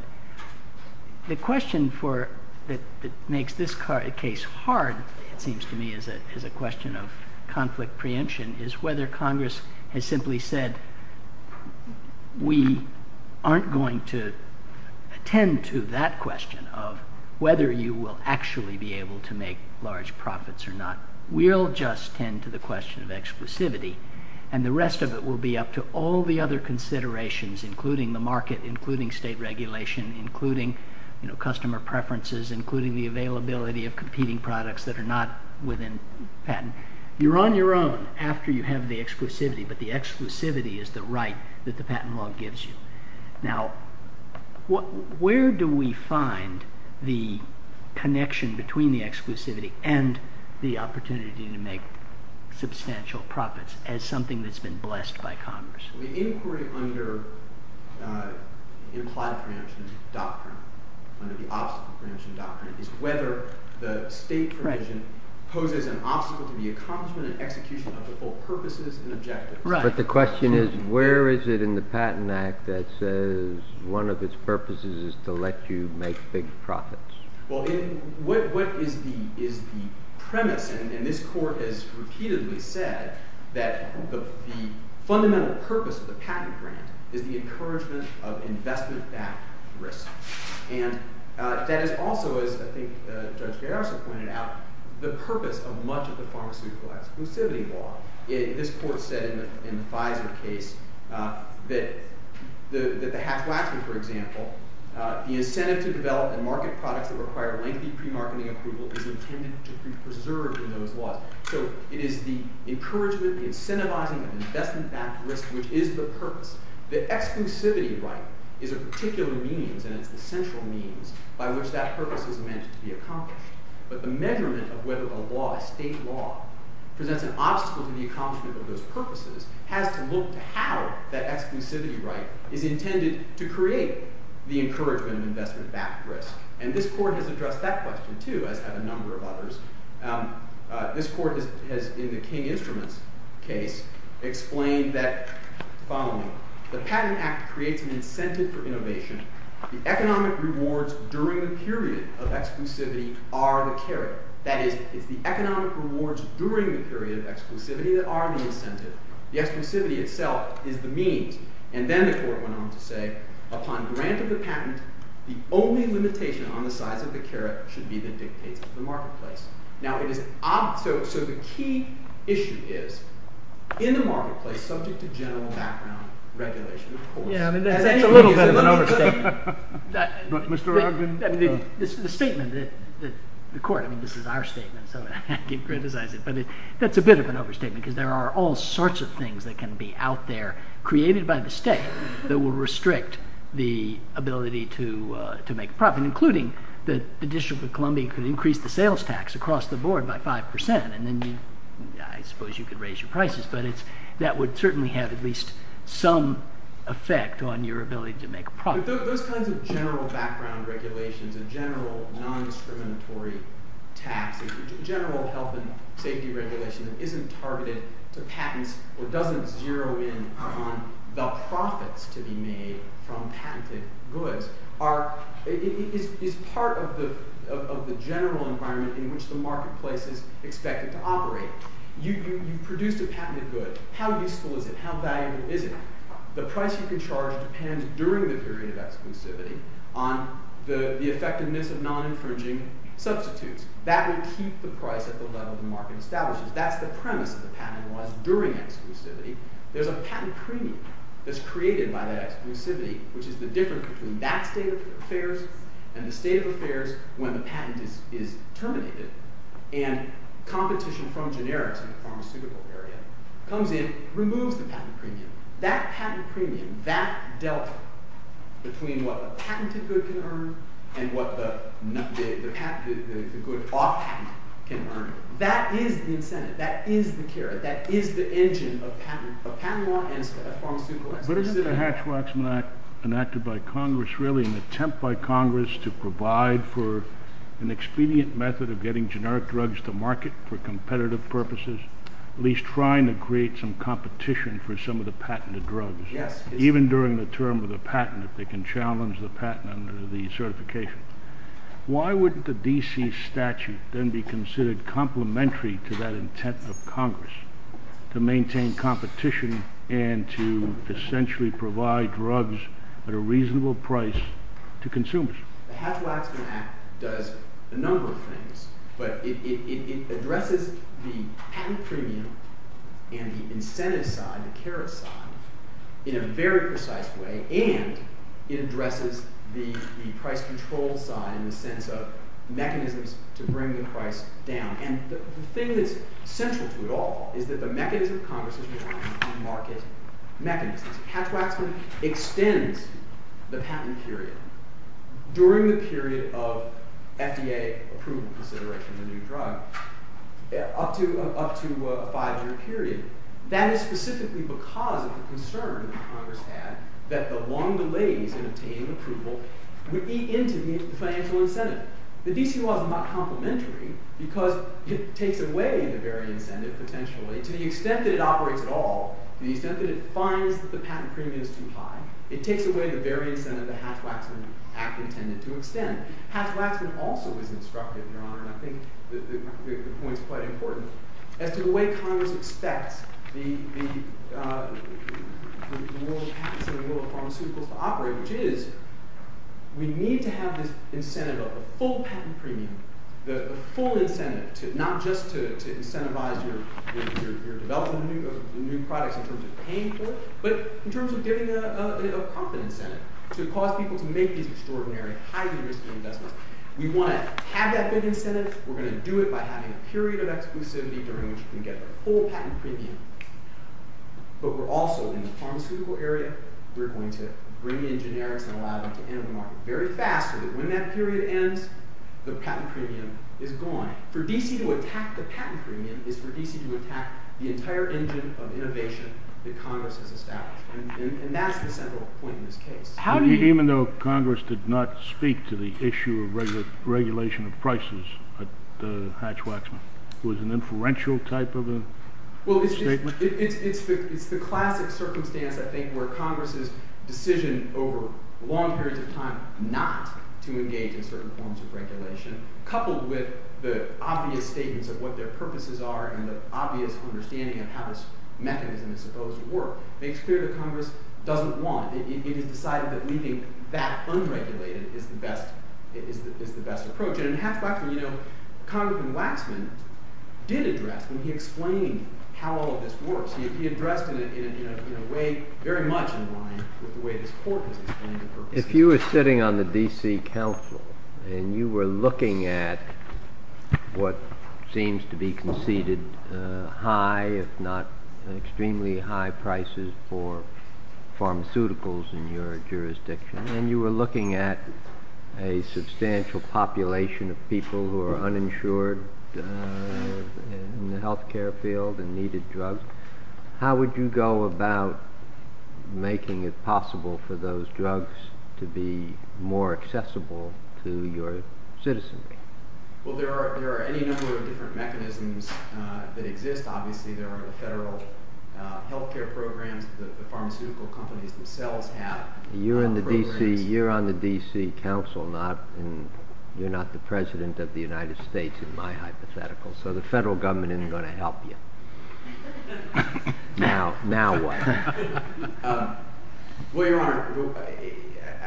the question that makes this case hard, it seems to me, is a question of conflict preemption, is whether Congress has simply said we aren't going to tend to that question of whether you will actually be able to make large profits or not. We'll just tend to the question of exclusivity, and the rest of it will be up to all the other considerations, including the market, including state regulation, including customer preferences, including the availability of competing products that are not within patent. You're on your own after you have the exclusivity, but the exclusivity is the right that the patent law gives you. Now, where do we find the connection between the exclusivity and the opportunity to make substantial profits as something that's been blessed by Congress? The inquiry under the implied preemption doctrine, under the obstacle preemption doctrine, whether the state preemption coded an obstacle to the accomplishment and execution of the full purposes and objectives. But the question is, where is it in the Patent Act that says one of its purposes is to let you make big profits? Well, what is the premise? And this Court has repeatedly said that the fundamental purpose of the patent agreement is the encouragement of investment-backed risk. And that is also, as I think Judge Garrison pointed out, the purpose of much of the Congress' legal exclusivity law. This Court said in the five-year case that the Hatch-Waxman, for example, the incentive to develop a market product to require lengthy pre-marketing approval is intended to be preserved in the law. So it is the encouragement, the incentivizing of investment-backed risk, which is the purpose. The exclusivity right is a particular means and an essential means by which that purpose is meant to be accomplished. But the measurement of whether a law, a state law, presents an obstacle to the accomplishment of those purposes has to look at how that exclusivity right is intended to create the encouragement of investment-backed risk. And this Court has addressed that question, too. I have a number of others. This Court has, in the King Instruments case, explained that, following, the Patent Act creates an incentive for innovation. The economic rewards during the period of exclusivity are the carrot. That is, it's the economic rewards during the period of exclusivity that are the incentive. The exclusivity itself is the mean. And then the Court went on to say, upon grant of the patent, the only limitation on the size of the carrot should be that it exceeds the marketplace. Now, it is an obstacle. So the key issue is, in the marketplace, subject to general background regulation, of course. And that's a little bit of an overstatement. Mr. Robinson? The statement that the Court, I mean, this is our statement, so I didn't criticize it, but that's a bit of an overstatement because there are all sorts of things that can be out there, created by the State, that will restrict the ability to make a profit, including that the District of Columbia could increase the sales tax across the board by 5%, and then I suppose you could raise your prices. But that would certainly have at least some effect on your ability to make a profit. Those kinds of general background regulations, the general non-discriminatory tax, the general health and safety regulations, isn't targeted to patents, or doesn't zero in on the profits to be made from patented goods. It's part of the general environment in which the marketplace is expected to operate. You produce a patented good. How useful is it? How valuable is it? The price you can charge depends, during the period of exclusivity, on the effectiveness of non-infringing substitutes. That will keep the price at the level the market establishes. That's the premise of the patent, was during exclusivity, there's a patent treaty that's created by that exclusivity, which is the difference between that state of affairs and the state of affairs when the patent is terminated. And competition from generics in the pharmaceutical area comes in, removes the patent treaty. That patent treaty, that delta, between what the patented good can earn and what the good option can earn, that is the incentive, that is the carrot, that is the engine of patent law and pharmaceutical activity. But isn't the Hatch-Watson Act enacted by Congress really an attempt by Congress to provide for an expedient method of getting generic drugs to market for competitive purposes, at least trying to create some competition for some of the patented drugs, even during the term of the patent, if they can challenge the patent under the certification? Why wouldn't the D.C. statute then be considered complementary to that intent of Congress to maintain competition and to essentially provide drugs at a reasonable price to consumers? The Hatch-Watson Act does a number of things, but it addresses the patent premium and the incentive side, the carrot side, in a very precise way, and it addresses the price control side in the sense of mechanisms to bring the price down. And the thing that's central to it all is that the mechanism Congress is using is a market mechanism. Hatch-Watson extends the patent period during the period of FDA approval consideration of new drugs up to a five-year period. That is specifically because of the concern that Congress had that the long delay in obtaining approval would be into these financial incentives. The D.C. law is not complementary because it takes away the various incentives, essentially. To the extent that it operates at all, the incentive to fund the patent premium is too high. It takes away the various incentives that Hatch-Watson Act intended to extend. Hatch-Watson has also been constructive, Your Honor, and I think that you make the point quite important. And to the way Congress expects the rule of patent or the rule of pharmaceuticals to operate, which is we need to have this incentive of a full patent premium, the full incentive, not just to incentivize your development of new products in terms of paying for it, but in terms of getting a confidence in it to cause people to make these extraordinary, highly risky investments. We want to have that big incentive. We're going to do it by having a period of exclusivity during which we can get the full patent premium. But we're also, in the pharmaceutical area, we're going to bring in generic and allow them to enter the market very fast so that when that period ends, the patent premium is gone. For D.C. to attack the patent premium is for D.C. to attack the entire engine of innovation that Congress has established. And that's the central point of this case. How do you... Even though Congress did not speak to the issue of regulation of prices at Hatch-Watson, was an inferential type of a statement? Well, it's the classic circumstance, I think, where Congress's decision over long periods of time not to engage in certain forms of regulation, coupled with the obvious statements of what their purposes are and the obvious understanding of how this mechanism is supposed to work, makes clear that Congress doesn't want it. It has decided that leaving that unregulated is the best approach. And in Hatch-Watson, you know, Congressman Waxman did address, and he explained how all of this works. He addressed it in a way very much in line with the way this court understands the purpose. If you were sitting on the D.C. Council and you were looking at what seems to be conceded high, if not extremely high, prices for pharmaceuticals in your jurisdiction, and you were looking at a substantial population of people who are uninsured in the health care field and needed drugs, how would you go about making it possible for those drugs to be more accessible to your citizens? Well, there are any number of different mechanisms that exist, obviously. There are the federal health care programs that the pharmaceutical companies themselves have. You're on the D.C. Council, and you're not the president of the United States, in my hypothetical. So the federal government isn't going to help you. Now what? Well, Your Honor,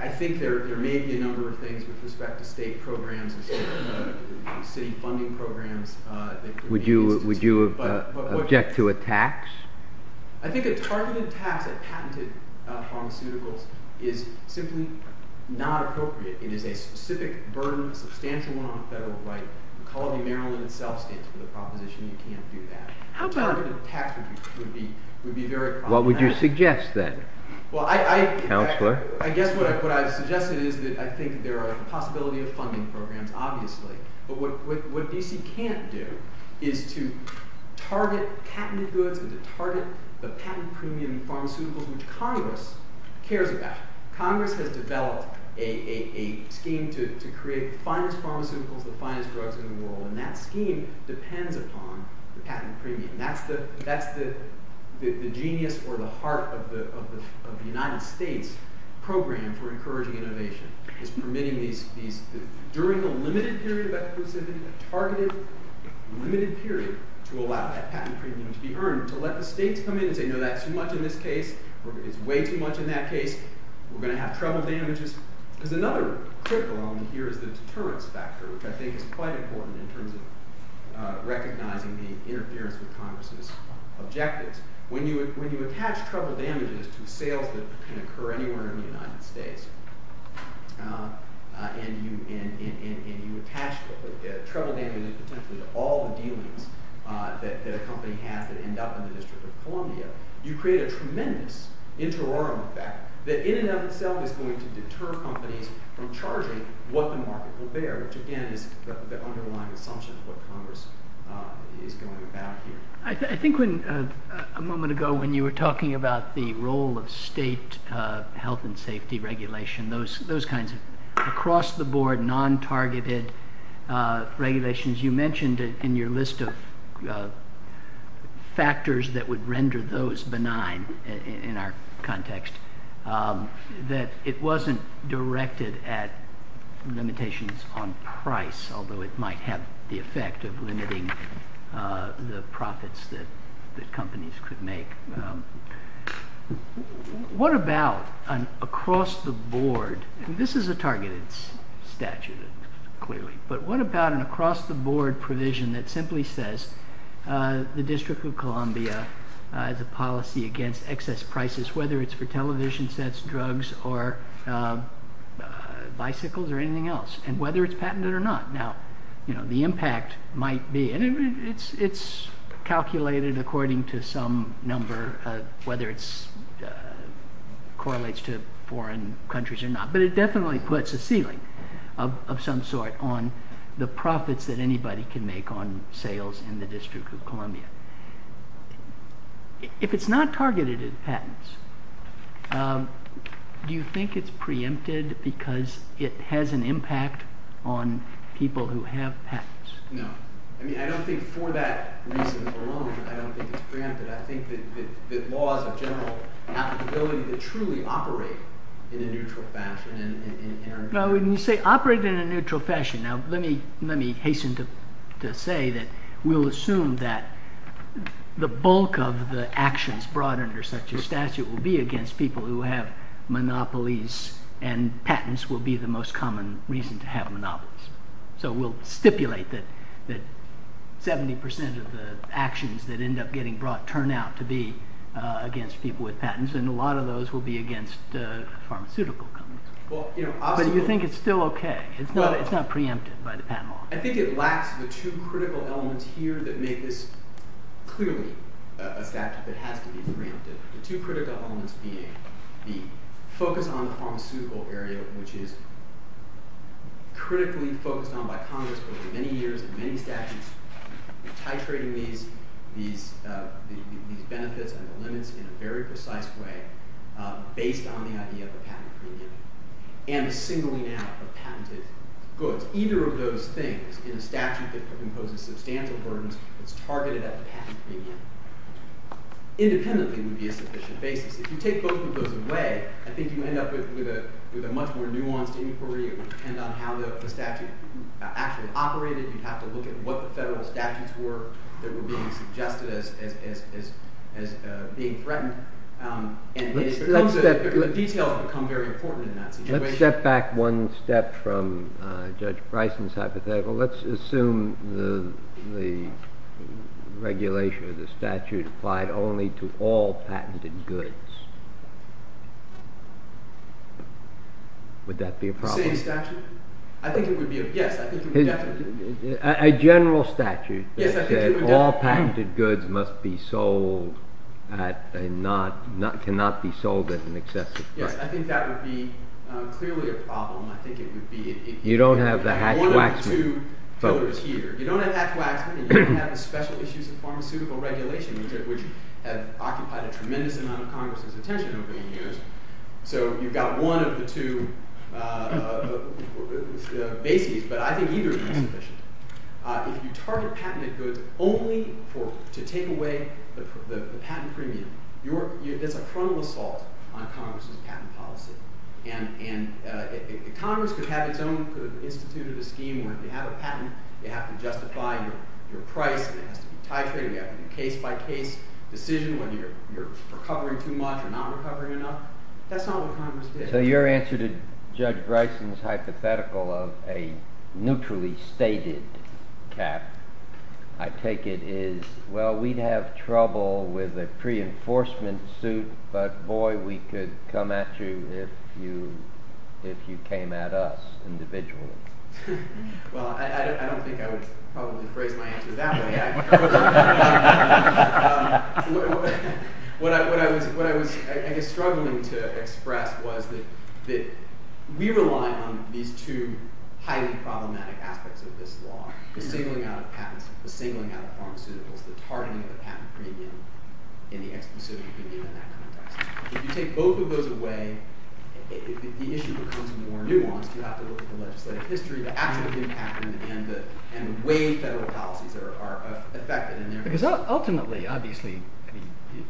I think there may be a number of things with respect to state programs and city funding programs. Would you object to a tax? I think as far as a tax, a patented pharmaceutical is simply not appropriate. It is a specific burden, substantial one, on the federal government. The College of Maryland itself stands for the proposition that the D.C. can't do that. A tax would be very problematic. What would you suggest then, Counselor? I guess what I suggested is that I think there are a possibility of funding programs, obviously. But what D.C. can't do is to target patented goods and to target the patented premium pharmaceuticals, which Congress cares about. Congress has developed a scheme to create the finest pharmaceuticals, the finest drugs in the world, and that scheme depends upon the patent premium. That's the genius or the heart of the United States program for encouraging innovation. It's permitting these, during the limited period, targeted limited period, to allow that patent premium to be earned, to let the states come in and say, no, that's too much in this case, or it's way too much in that case, we're going to have trouble damaging it. There's another critical one here, which is the deterrence factor, which I think is quite important in terms of recognizing the interference with Congress's objectives. When you attach trouble damages to sales that can occur anywhere in the United States, and you attach trouble damages to all the dealings that a company has that end up in the District of Columbia, you create a tremendous interior effect that in and of itself is going to deter companies from charging what the market will bear, which again is the underlying assumption of what Congress is going to do. I think a moment ago, when you were talking about the role of state health and safety regulation, those kinds of across-the-board, non-targeted regulations, you mentioned in your list of factors that would render those benign in our context that it wasn't directed at limitations on price, although it might have the effect of limiting the profits that companies could make. What about an across-the-board, this is a targeted statute, clearly, but what about an across-the-board provision that simply says the District of Columbia, the policy against excess prices, whether it's for television sets, drugs, or bicycles or anything else, and whether it's patented or not. Now, the impact might be, and it's calculated according to some number, whether it correlates to foreign countries or not, but it definitely puts a ceiling of some sort on the profits that anybody can make on sales in the District of Columbia. If it's not targeted as patents, do you think it's preempted because it has an impact on people who have patents? No. I mean, I don't think for that reason alone, I don't think it's preempted. I think that laws in general have the ability to truly operate in a neutral fashion. When you say operate in a neutral fashion, now, let me hasten to say that we'll assume that the bulk of the actions brought under such a statute will be against people who have monopolies, and patents will be the most common reason to have monopolies. So we'll stipulate that 70% of the actions that end up getting brought turn out to be against people with patents, and a lot of those will be against pharmaceutical companies. But you think it's still okay. It's not preempted by the patent law. I think it lacks the two critical elements here that make this clearly a fact that has to be preempted. The two critical elements being the focus on the pharmaceutical area, which is critically focused on by Congress for many years, and many statutes titrating these benefits and the limits in a very precise way based on the idea of the patent provision, and the singling out of patented goods. Either of those things, your statutes are composed of substantial burdens that's targeted at the patent premium. Independently would be a sufficient basis. If you take both of those away, I think you end up with a much more nuanced inquiry as to how the statute actually operated. You have to look at what the federal statutes were that were being suggested as being threatened. And the details become very important in that situation. Let's step back one step from Judge Price's hypothetical. Let's assume the regulation of the statute applied only to all patented goods. Would that be a problem? I think it would be a yes. A general statute that said all patented goods must be sold and cannot be sold at an excessive price. I think that would be clearly a problem. You don't have the Hatch-Waxman folks here. You don't have Hatch-Waxman, and you don't have the special issues of pharmaceutical regulation that has occupied a tremendous amount of Congress's attention over the years. So you've got one of the two babies. But I think either is beneficial. If you target patented goods only to take away the patent premium, there's a frontal assault on Congress's patent policy. And if Congress could have its own instituted scheme where if you have a patent, you have to justify your price, you have to be tighter, you have to be a case by case decision when you're recovering too much or not recovering enough, that's not what Congress did. So your answer to Judge Bryson's hypothetical of a neutrally stated cap, I take it is, well, we'd have trouble with a pre-enforcement suit, but boy, we could come at you if you came at us individually. Well, I don't think I would probably phrase my answer that way. What I was struggling to express was that we rely on the two highly problematic aspects of this law, the singling out of patents, the singling out of pharmaceuticals, the targeting of a patent premium, and the end-to-end suit. If you take both of those away, the issue becomes more nuanced. You have to look at the less played history of the patent and the way federal policies are affected. Because ultimately, obviously,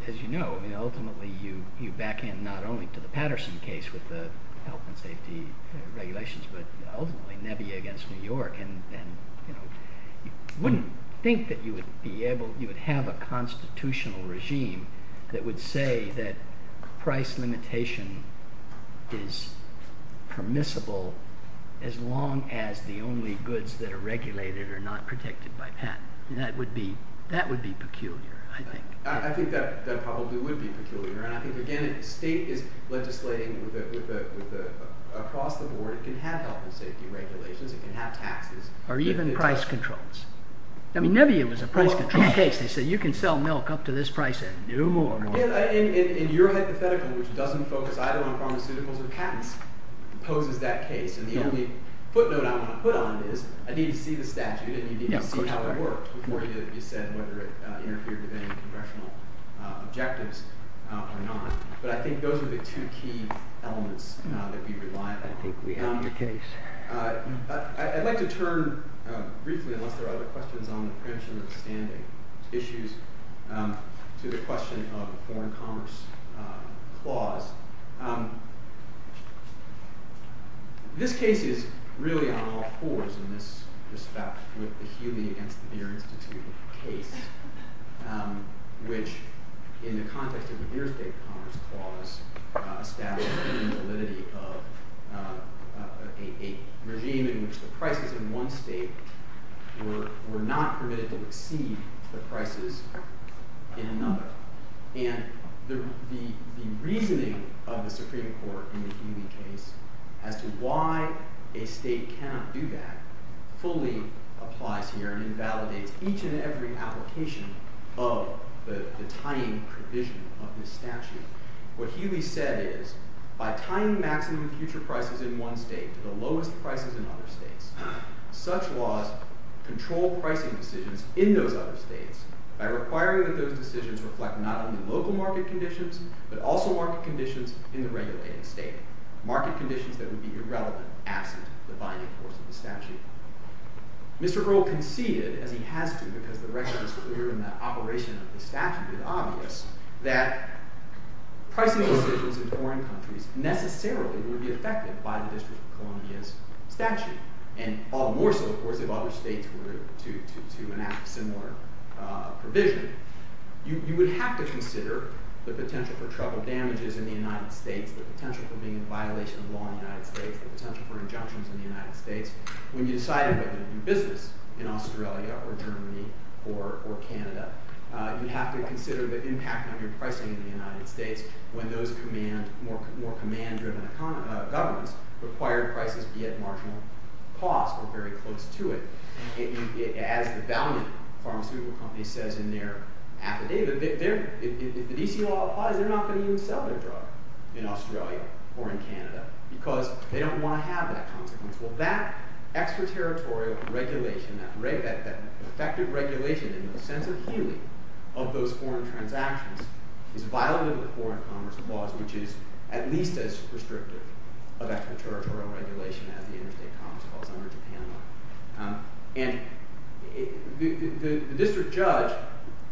as you know, ultimately, you back in not only to the Patterson case with the health and safety regulations, but ultimately, Nebby against New York. And you wouldn't think that you would be able, you would have a constitutional regime that would say that price limitation is permissible as long as the only goods that are regulated are not protected by patent. And that would be peculiar, I think. I think that probably would be peculiar. And I think, again, if the state is legislating with a foster board, it could have health and safety regulations. It could have taxes. Or even price controls. I mean, Nebby was a price control case. They said, you can sell milk up to this price at no more, really. And your hypothetical, which doesn't focus either on pharmaceuticals or patents, poses that case. And the only footnote I want to put on it is I need to see the statute, and you need to see how it works, and whether it interferes with any congressional objectives or not. But I think those are the two key elements that we rely on. I think we have a case. I'd like to turn briefly, unless there are other questions on the printer and issues, to the question of foreign commerce clause. This case is really on all fours, in this respect, with the Huey and Spears case, which, in the context of the New York State Commerce Clause, status and validity of a regime in which the prices in one state were not permitted to exceed the prices in another. And the reasoning of the Supreme Court in the Huey case, as to why a state cannot do that, fully applies here. And it validates each and every application of the timing provision of the statute. What Huey said is, by timing maximum future prices in one state to the lowest prices in other states, such laws control pricing decisions in those other states by requiring that those decisions reflect not only local market conditions, but also market conditions in the regulated state, market conditions that would be irrelevant after the binding force of the statute. Mr. Earle conceded, and he has conceded because the record is clear in the operation of the statute, it's obvious, that pricing decisions in foreign countries necessarily would be affected by the District of Columbia statute. And all the more so, of course, if other states were to enact similar provisions. You would have to consider the potential for travel damages in the United States, the potential for being a violation of the law in the United States, the potential for rejection from the United States, when you decide whether to do business in Australia or Germany or Canada. You have to consider the impact of your pricing in the United States when those more command-driven governments require prices to be at marginal cost or very close to it. And as the value pharmaceutical company says in their affidavit, if the DC law applies, they're not going to even sell their drug in Australia or in Canada because they don't want to have that consequence. Well, that extra-territorial regulation, that effective regulation in the sense of healing of those foreign transactions is violating the foreign commerce laws, which is at least as restrictive of extra-territorial regulation in the United States as it is in Canada. And the district judge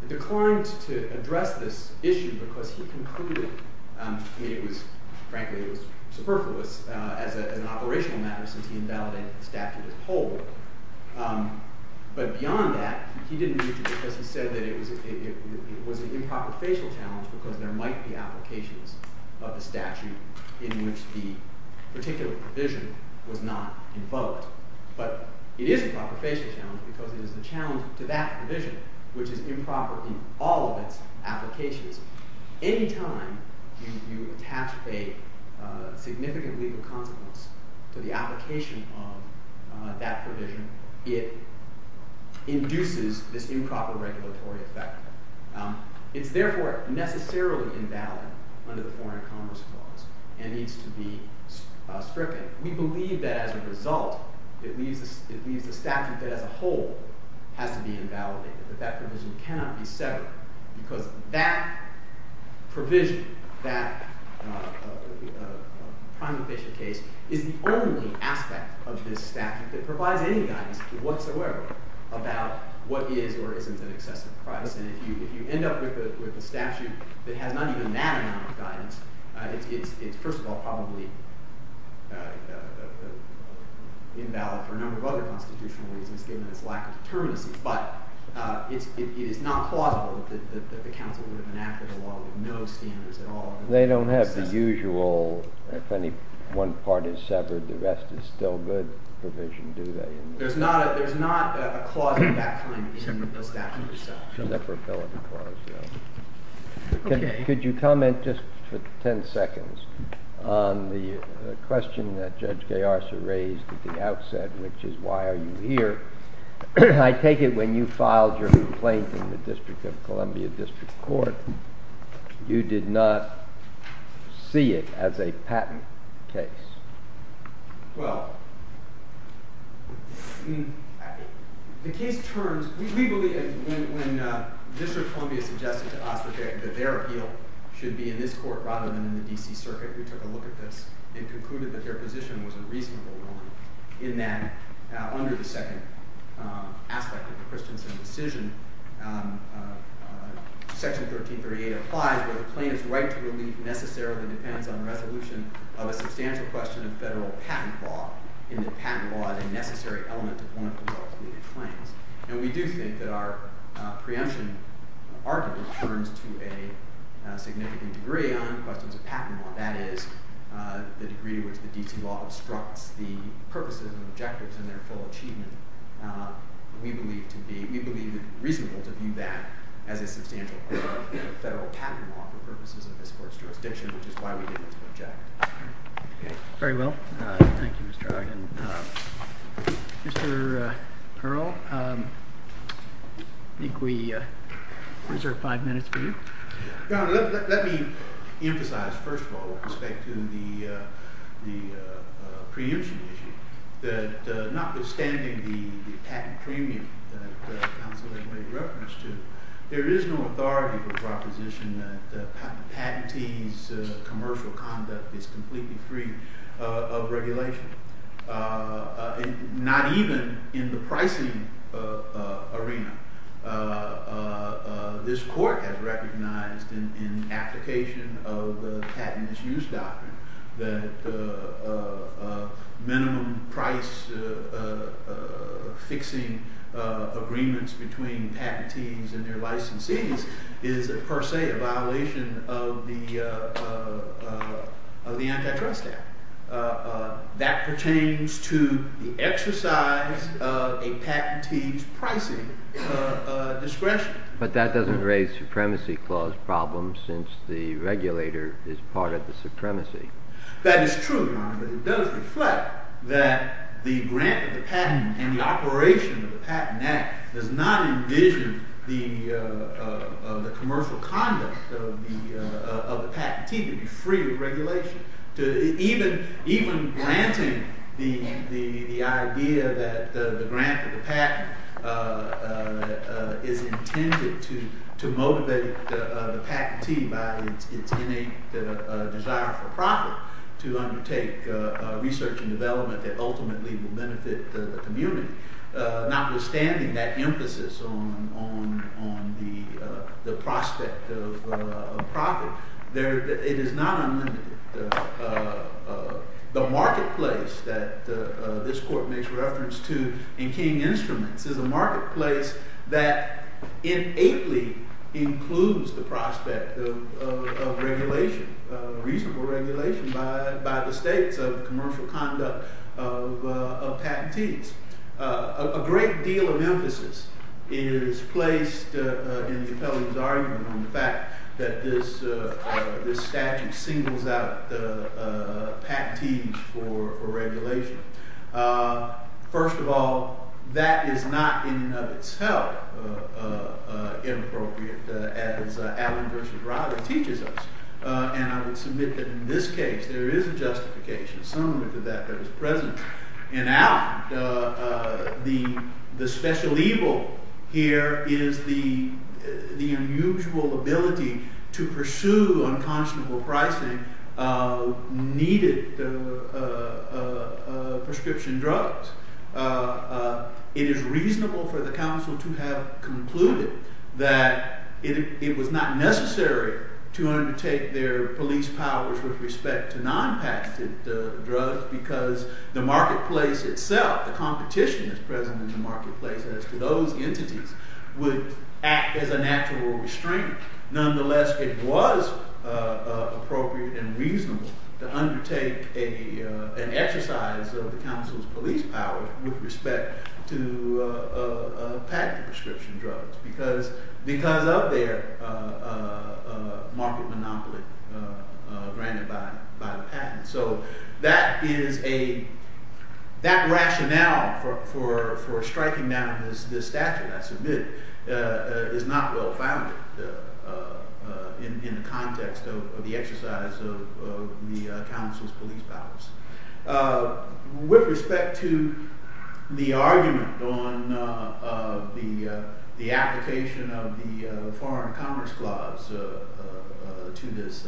declines to address this issue because he concluded to me it was, frankly, it was superfluous as an operational matter since he invalidated the statute of holdings. But beyond that, he didn't use it because he said that it was an improper facial challenge because there might be applications of the statute in which the particular provision was not invoked. But it is an improper facial challenge because there's a challenge to that provision, which is improper in all of its applications. Any time you attach a significant legal consequence to the application of that provision, it induces this improper regulatory effect. It's therefore necessarily invalid under the foreign commerce laws and needs to be stricter. We believe that as a result that we use the statute that as a whole has to be invalidated. But that provision cannot be severed. Because that provision, that time-efficient case, is the only aspect of this statute that provides any guidance whatsoever about what is or isn't an excessive crime. And if you end up with a statute that has none of that amount of guidance, it's, first of all, probably invalid for a number of other constitutional reasons given its lack of determinants. But it's not plausible that the counsel would have enacted a law with no standards at all. They don't have the usual, if any one part is severed, the rest is still good provision, do they? There's not a clause that time in the statute itself. Could you comment just for 10 seconds on the question that Judge Gayarza raised at the outset, which is why are you here? I take it when you filed your complaint in the District of Columbia District Court, you did not see it as a patent case. Well, the case turns. We believe that when District of Columbia suggested that their appeal should be in this court rather than in the DC Circuit, which I don't look at this, they concluded that their position was a reasonable one in that under the second aspect of the Christensen decision, section 1338 applies that a plaintiff's right to release necessarily depends on the resolution of a substantial question of federal patent law, and that patent law is a necessary element to form a convoluted claim. And we do think that our preemption arguably turns to a significant degree on the question of patent law. That is, the degree with which the DC law obstructs the purposes and objectives in their full achievement. We believe it's reasonable to view that as a substantial part of federal patent law for purposes of this court's jurisdiction, which is why we did this objection. Very well. Thank you, Mr. Hagen. Mr. Perl, I think we reserve five minutes for you. Let me emphasize, first of all, with respect to the preemption, that notwithstanding the patent premium that counsel has made reference to, there is no authority for proposition that patentees' commercial conduct is completely free of regulation. Not even in the pricing arena. This court has recognized in application of the patents use doctrine that minimum price fixing agreements between patentees and their licensees is, per se, a violation of the antitrust act. That pertains to the exercise of a patentee's pricing discretion. But that doesn't raise supremacy clause problems, since the regulator is part of the supremacy. That is true, Your Honor. But it does reflect that the grant of the patent and the operation of the patent act does not envision the commercial conduct of the patentee to be free of regulation. Even granting the idea that the grant of the patent is intended to motivate the patentee by any desire for profit to undertake research and development that ultimately will benefit the community, notwithstanding that emphasis on the prospect of profit, it is not on the marketplace that this court makes reference to in keying instruments. It's a marketplace that innately includes the prospect of reasonable regulation by the states of commercial conduct of patentees. A great deal of emphasis is placed, as you can tell, in his argument on the fact that this statute singles out patentees for regulation. First of all, that is not, in and of itself, inappropriate, as Alan Richard Robinson teaches us. And I would submit that in this case, there is a justification. Someone at the back there was present. And now, the special evil here is the unusual ability to pursue unconscionable pricing needed prescription drugs. It is reasonable for the counsel to have concluded that it was not necessary to undertake their police powers with respect to non-patented drugs, because the marketplace itself, the competition that's present in the marketplace as to those entities, would act as a natural restraint. Nonetheless, it was appropriate and reasonable to undertake an exercise of the counsel's police power with respect to patented prescription drugs, because of their market monopoly granted by the patent. So that rationale for striking down this statute, I submit, is not well-founded in the context of the exercise of the counsel's police powers. With respect to the argument on the application of the Foreign Commerce Clause to this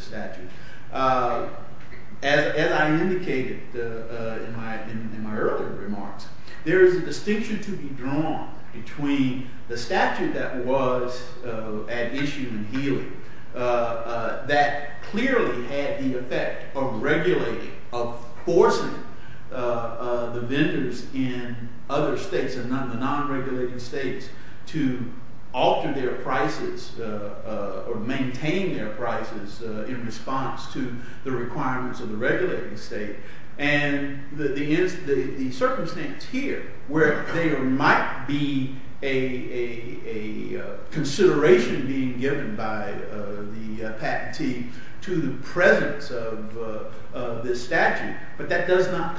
statute, as I indicated in my earlier remarks, there is a distinction to be drawn between the statute that was at issue in the field that clearly had the effect of regulating, of forcing the vendors in other states or non-regulated states to alter their prices or maintain their prices in response to the requirements of the regulated state. And the circumstance here, where there might be a consideration being given by the patentee to the presence of this statute, but that does not